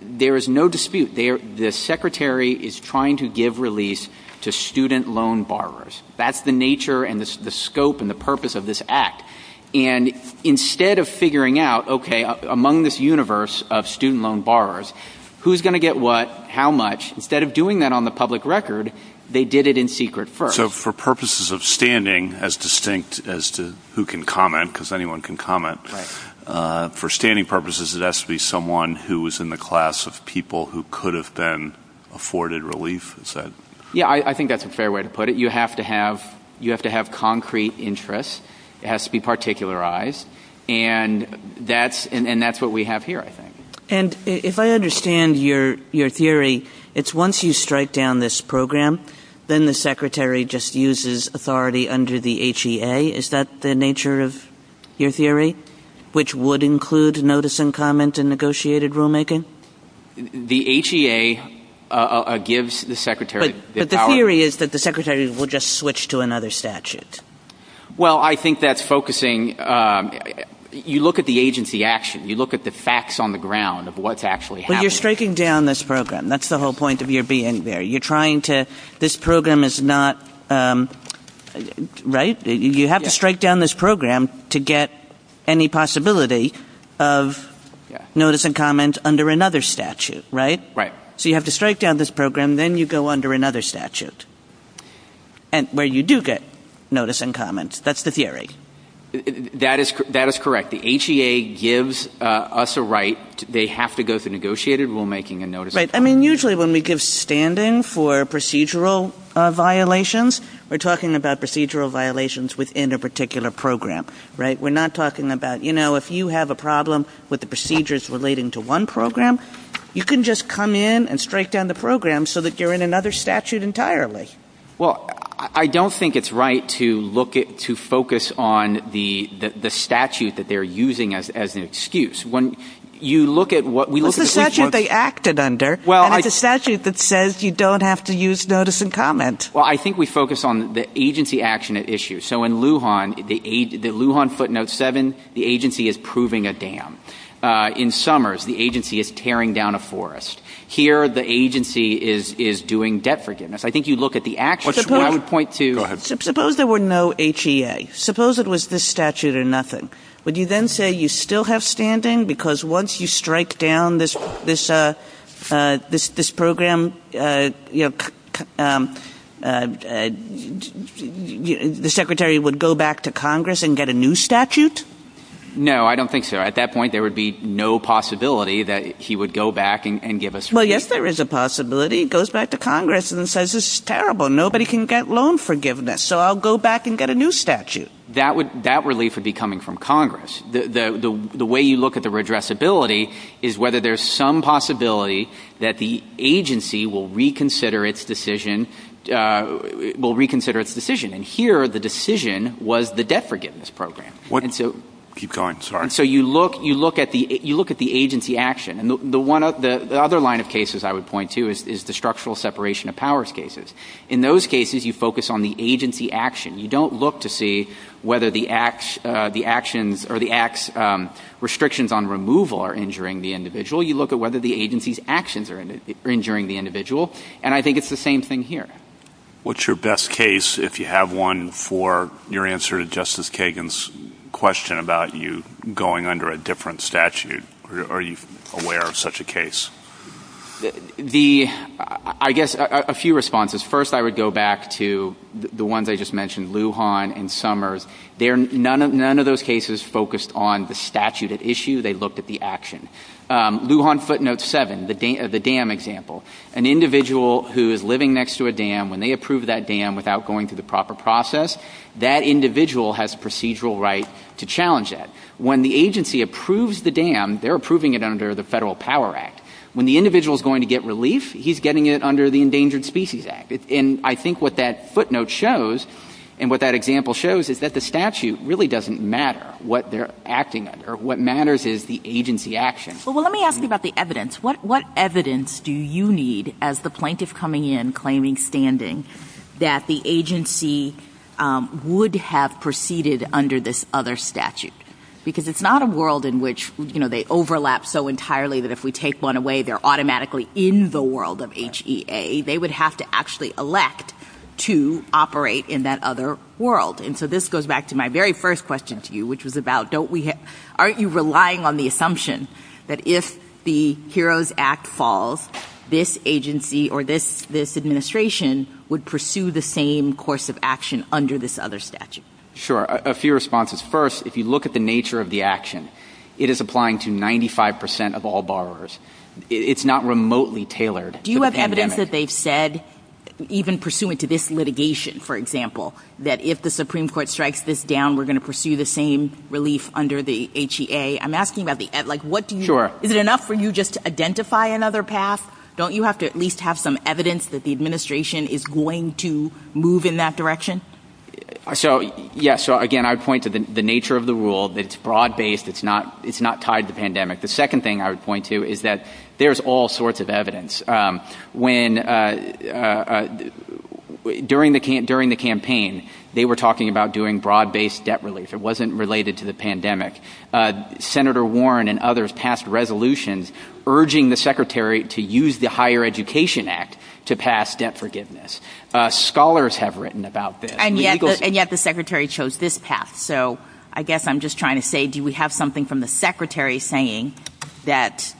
there is no dispute. The secretary is trying to give release to student loan borrowers. That's the nature and the scope and the purpose of this act. And instead of figuring out, okay, among this universe of student loan borrowers, who's going to get what, how much, instead of doing that on the public record, they did it in secret first. So for purposes of standing, as distinct as to who can comment, because anyone can comment, for standing purposes, it has to be someone who is in the class of people who could have been afforded relief? Yeah, I think that's a fair way to put it. You have to have concrete interest. It has to be particularized, and that's what we have here, I think. And if I understand your theory, it's once you strike down this program, then the secretary just uses authority under the HEA. Is that the nature of your theory, which would include notice and comment and negotiated rulemaking? The HEA gives the secretary the power. But the theory is that the secretary will just switch to another statute. Well, I think that's focusing. You look at the agency action. You look at the facts on the ground of what's actually happening. But you're striking down this program. That's the whole point of your being there. You're trying to – this program is not – right? You have to strike down this program to get any possibility of notice and comment under another statute, right? Right. So you have to strike down this program, then you go under another statute, where you do get notice and comment. That's the theory. That is correct. The HEA gives us a right. They have to go through negotiated rulemaking and notice and comment. Right. I mean, usually when we give standing for procedural violations, we're talking about procedural violations within a particular program, right? We're not talking about, you know, if you have a problem with the procedures relating to one program, you can just come in and strike down the program so that you're in another statute entirely. Well, I don't think it's right to look at – to focus on the statute that they're using as an excuse. When you look at what we look at – It's a statute they acted under. Well, I – And it's a statute that says you don't have to use notice and comment. Well, I think we focus on the agency action issue. So in Lujan, the Lujan footnote 7, the agency is proving a dam. In Summers, the agency is tearing down a forest. Here, the agency is doing debt forgiveness. I think you look at the action. I would point to – Suppose there were no HEA. Suppose it was this statute or nothing. Would you then say you still have standing because once you strike down this program, you know, the secretary would go back to Congress and get a new statute? No, I don't think so. At that point, there would be no possibility that he would go back and give us relief. Well, yes, there is a possibility. He goes back to Congress and says it's terrible. Nobody can get loan forgiveness, so I'll go back and get a new statute. That relief would be coming from Congress. The way you look at the redressability is whether there's some possibility that the agency will reconsider its decision. And here, the decision was the debt forgiveness program. Keep going. I'm sorry. So you look at the agency action. And the other line of cases I would point to is the structural separation of powers cases. In those cases, you focus on the agency action. You don't look to see whether the restrictions on removal are injuring the individual. You look at whether the agency's actions are injuring the individual. And I think it's the same thing here. What's your best case, if you have one, for your answer to Justice Kagan's question about you going under a different statute? Are you aware of such a case? I guess a few responses. First, I would go back to the ones I just mentioned, Lujan and Summers. None of those cases focused on the statute at issue. They looked at the action. Lujan footnote 7, the dam example. An individual who is living next to a dam, when they approve that dam without going through the proper process, that individual has procedural right to challenge that. When the agency approves the dam, they're approving it under the Federal Power Act. When the individual is going to get relief, he's getting it under the Endangered Species Act. And I think what that footnote shows, and what that example shows, is that the statute really doesn't matter what they're acting under. What matters is the agency action. Well, let me ask you about the evidence. What evidence do you need as the plaintiff coming in, claiming standing, that the agency would have proceeded under this other statute? Because it's not a world in which they overlap so entirely that if we take one away, they're automatically in the world of HEA. They would have to actually elect to operate in that other world. And so this goes back to my very first question to you, which was about, aren't you relying on the assumption that if the HEROES Act falls, this agency or this administration would pursue the same course of action under this other statute? Sure. A few responses. First, if you look at the nature of the action, it is applying to 95% of all borrowers. It's not remotely tailored to the pandemic. Do you have evidence that they've said, even pursuant to this litigation, for example, that if the Supreme Court strikes this down, we're going to pursue the same relief under the HEA? I'm asking about the – like, what do you – is it enough for you just to identify another path? Don't you have to at least have some evidence that the administration is going to move in that direction? So, yes. So, again, I would point to the nature of the rule, that it's broad-based. It's not tied to the pandemic. The second thing I would point to is that there's all sorts of evidence. When – during the campaign, they were talking about doing broad-based debt relief. It wasn't related to the pandemic. Senator Warren and others passed resolutions urging the Secretary to use the Higher Education Act to pass debt forgiveness. Scholars have written about this. And yet the Secretary chose this path. So, I guess I'm just trying to say, do we have something from the Secretary saying that,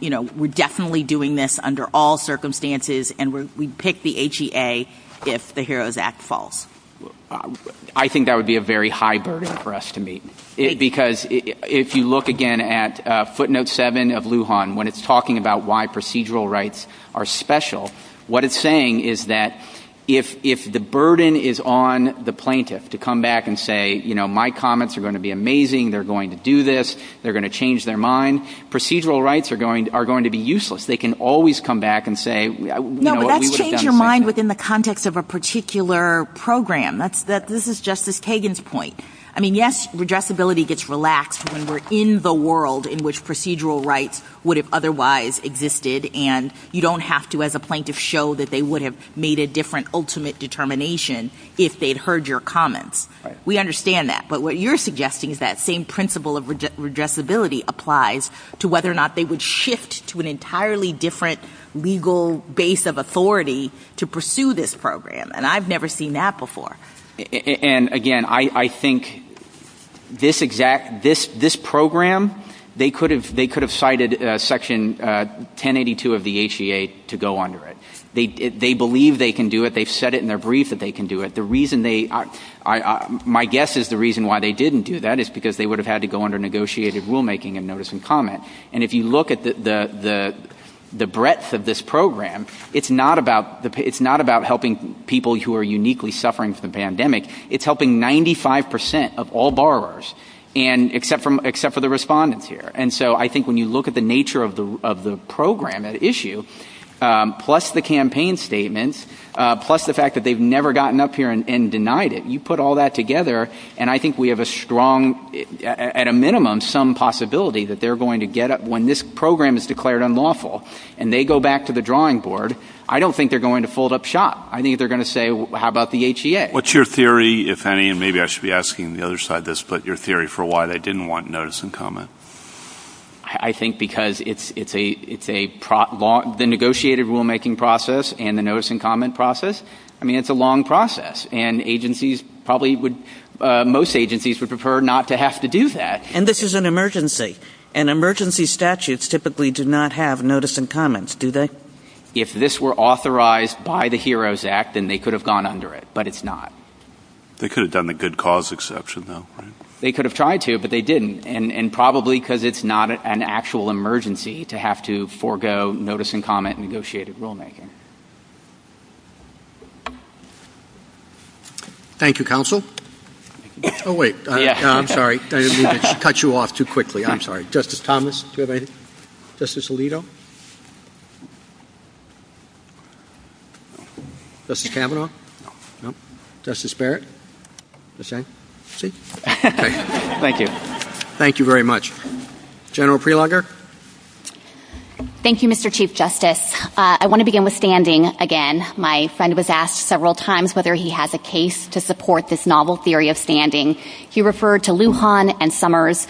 you know, we're definitely doing this under all circumstances and we'd pick the HEA if the HEROES Act falls? I think that would be a very high burden for us to meet. Because if you look again at footnote 7 of Lujan, when it's talking about why procedural rights are special, what it's saying is that if the burden is on the plaintiff to come back and say, you know, my comments are going to be amazing, they're going to do this, they're going to change their mind, procedural rights are going to be useless. They can always come back and say – No, but that's change your mind within the context of a particular program. This is Justice Kagan's point. I mean, yes, redressability gets relaxed when we're in the world in which procedural rights would have otherwise existed. And you don't have to, as a plaintiff, show that they would have made a different ultimate determination if they'd heard your comments. We understand that. But what you're suggesting is that same principle of redressability applies to whether or not they would shift to an entirely different legal base of authority to pursue this program. And I've never seen that before. And, again, I think this program, they could have cited Section 1082 of the HEA to go under it. They believe they can do it. They've said it in their brief that they can do it. My guess is the reason why they didn't do that is because they would have had to go under negotiated rulemaking and notice and comment. And if you look at the breadth of this program, it's not about helping people who are uniquely suffering from the pandemic. It's helping 95 percent of all borrowers, except for the respondents here. And so I think when you look at the nature of the program at issue, plus the campaign statements, plus the fact that they've never gotten up here and denied it, you put all that together, and I think we have a strong, at a minimum, some possibility that they're going to get up And they go back to the drawing board. I don't think they're going to fold up shop. I think they're going to say, how about the HEA? What's your theory, if any, and maybe I should be asking the other side this, but your theory for why they didn't want notice and comment? I think because it's the negotiated rulemaking process and the notice and comment process. I mean, it's a long process. And most agencies would prefer not to have to do that. And this is an emergency. And emergency statutes typically do not have notice and comments, do they? If this were authorized by the HEROES Act, then they could have gone under it, but it's not. They could have done the good cause exception, though. They could have tried to, but they didn't, and probably because it's not an actual emergency to have to forego notice and comment negotiated rulemaking. Thank you, counsel. Oh, wait. I'm sorry. I didn't mean to cut you off too quickly. I'm sorry. Justice Thomas, do you have anything? Justice Alito? Justice Kavanaugh? Justice Barrett? Thank you. Thank you very much. General Prelogar? Thank you, Mr. Chief Justice. I want to begin with standing again. My son was asked several times whether he has a case to support this novel theory of standing. He referred to Lujan and Summers.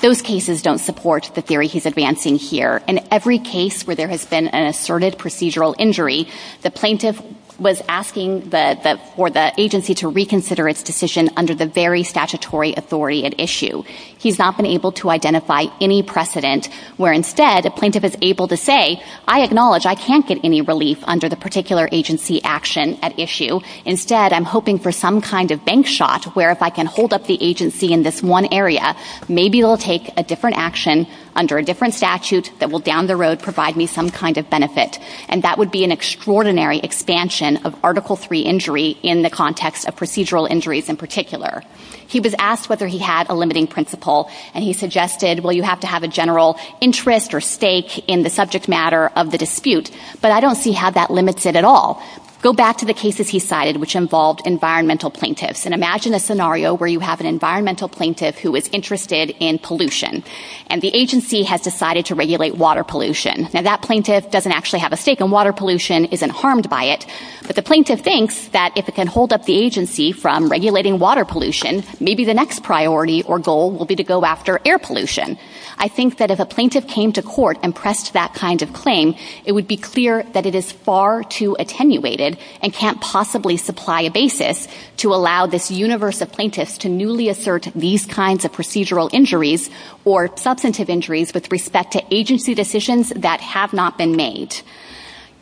Those cases don't support the theory he's advancing here. In every case where there has been an asserted procedural injury, the plaintiff was asking for the agency to reconsider its decision under the very statutory authority at issue. He's not been able to identify any precedent where instead the plaintiff is able to say, I acknowledge I can't get any relief under the particular agency action at issue. Instead, I'm hoping for some kind of bank shot where if I can hold up the agency in this one area, maybe it will take a different action under a different statute that will down the road provide me some kind of benefit. And that would be an extraordinary expansion of Article III injury in the context of procedural injuries in particular. He was asked whether he had a limiting principle, and he suggested, well, you have to have a general interest or stake in the subject matter of the dispute, but I don't see how that limits it at all. Go back to the cases he cited which involved environmental plaintiffs, and imagine a scenario where you have an environmental plaintiff who is interested in pollution, and the agency has decided to regulate water pollution. Now, that plaintiff doesn't actually have a stake in water pollution, isn't harmed by it, but the plaintiff thinks that if it can hold up the agency from regulating water pollution, maybe the next priority or goal will be to go after air pollution. I think that if a plaintiff came to court and pressed that kind of claim, it would be clear that it is far too attenuated and can't possibly supply a basis to allow this universe of plaintiffs to newly assert these kinds of procedural injuries or substantive injuries with respect to agency decisions that have not been made.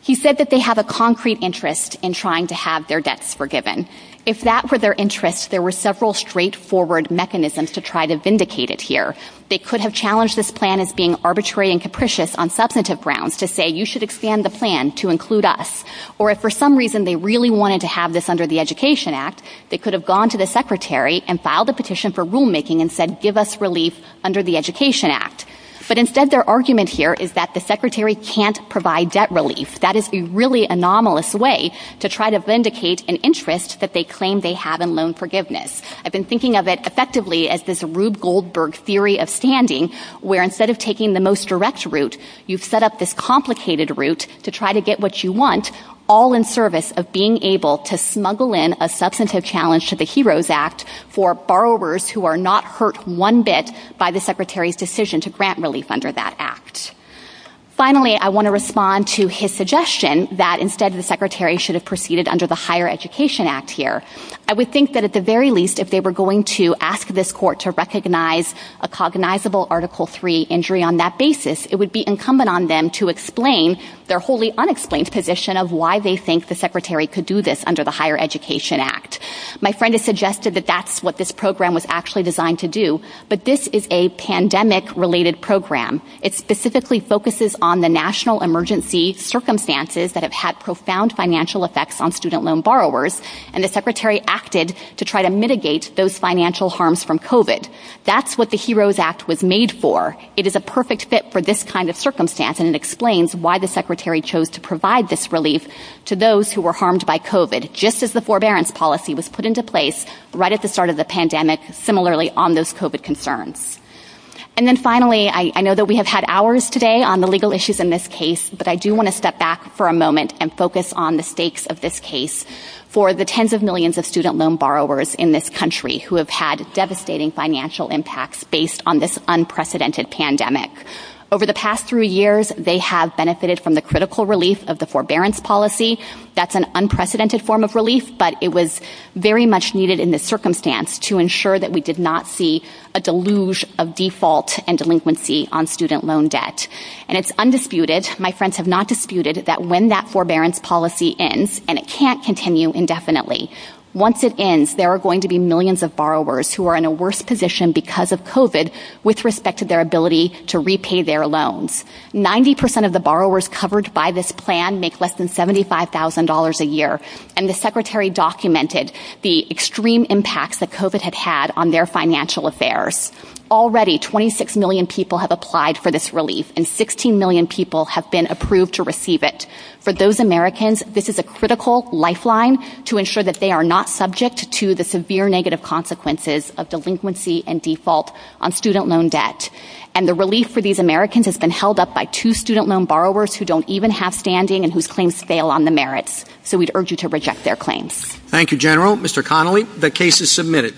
He said that they have a concrete interest in trying to have their debts forgiven. If that were their interest, there were several straightforward mechanisms to try to vindicate it here. They could have challenged this plan as being arbitrary and capricious on substantive grounds to say, you should expand the plan to include us. Or if for some reason they really wanted to have this under the Education Act, they could have gone to the secretary and filed a petition for rulemaking and said, give us relief under the Education Act. But instead their argument here is that the secretary can't provide debt relief. That is a really anomalous way to try to vindicate an interest that they claim they have in loan forgiveness. I've been thinking of it effectively as this Rube Goldberg theory of standing where instead of taking the most direct route, you've set up this complicated route to try to get what you want, all in service of being able to smuggle in a substantive challenge to the HEROES Act for borrowers who are not hurt one bit by the secretary's decision to grant relief under that act. Finally, I want to respond to his suggestion that instead the secretary should have proceeded under the Higher Education Act here. I would think that at the very least if they were going to ask this court to recognize a cognizable Article III injury on that basis, it would be incumbent on them to explain their wholly unexplained position of why they think the secretary could do this under the Higher Education Act. My friend has suggested that that's what this program was actually designed to do, but this is a pandemic-related program. It specifically focuses on the national emergency circumstances that have had profound financial effects on student loan borrowers, and the secretary acted to try to mitigate those financial harms from COVID. That's what the HEROES Act was made for. It is a perfect fit for this kind of circumstance, and it explains why the secretary chose to provide this relief to those who were harmed by COVID, just as the forbearance policy was put into place right at the start of the pandemic similarly on those COVID concerns. And then finally, I know that we have had hours today on the legal issues in this case, but I do want to step back for a moment and focus on the stakes of this case for the tens of millions of student loan borrowers in this country who have had devastating financial impacts based on this unprecedented pandemic. Over the past three years, they have benefited from the critical relief of the forbearance policy. That's an unprecedented form of relief, but it was very much needed in this circumstance to ensure that we did not see a deluge of default and delinquency on student loan debt. And it's undisputed, my friends have not disputed, that when that forbearance policy ends, and it can't continue indefinitely, once it ends, there are going to be millions of borrowers who are in a worse position because of COVID with respect to their ability to repay their loans. Ninety percent of the borrowers covered by this plan make less than $75,000 a year, and the Secretary documented the extreme impacts that COVID had had on their financial affairs. Already, 26 million people have applied for this relief, and 16 million people have been approved to receive it. For those Americans, this is a critical lifeline to ensure that they are not subject to the severe negative consequences of delinquency and default on student loan debt. And the relief for these Americans has been held up by two student loan borrowers who don't even have standing and whose claims fail on the merits. So we urge you to reject their claims. Thank you, General. Mr. Connolly, the case is submitted.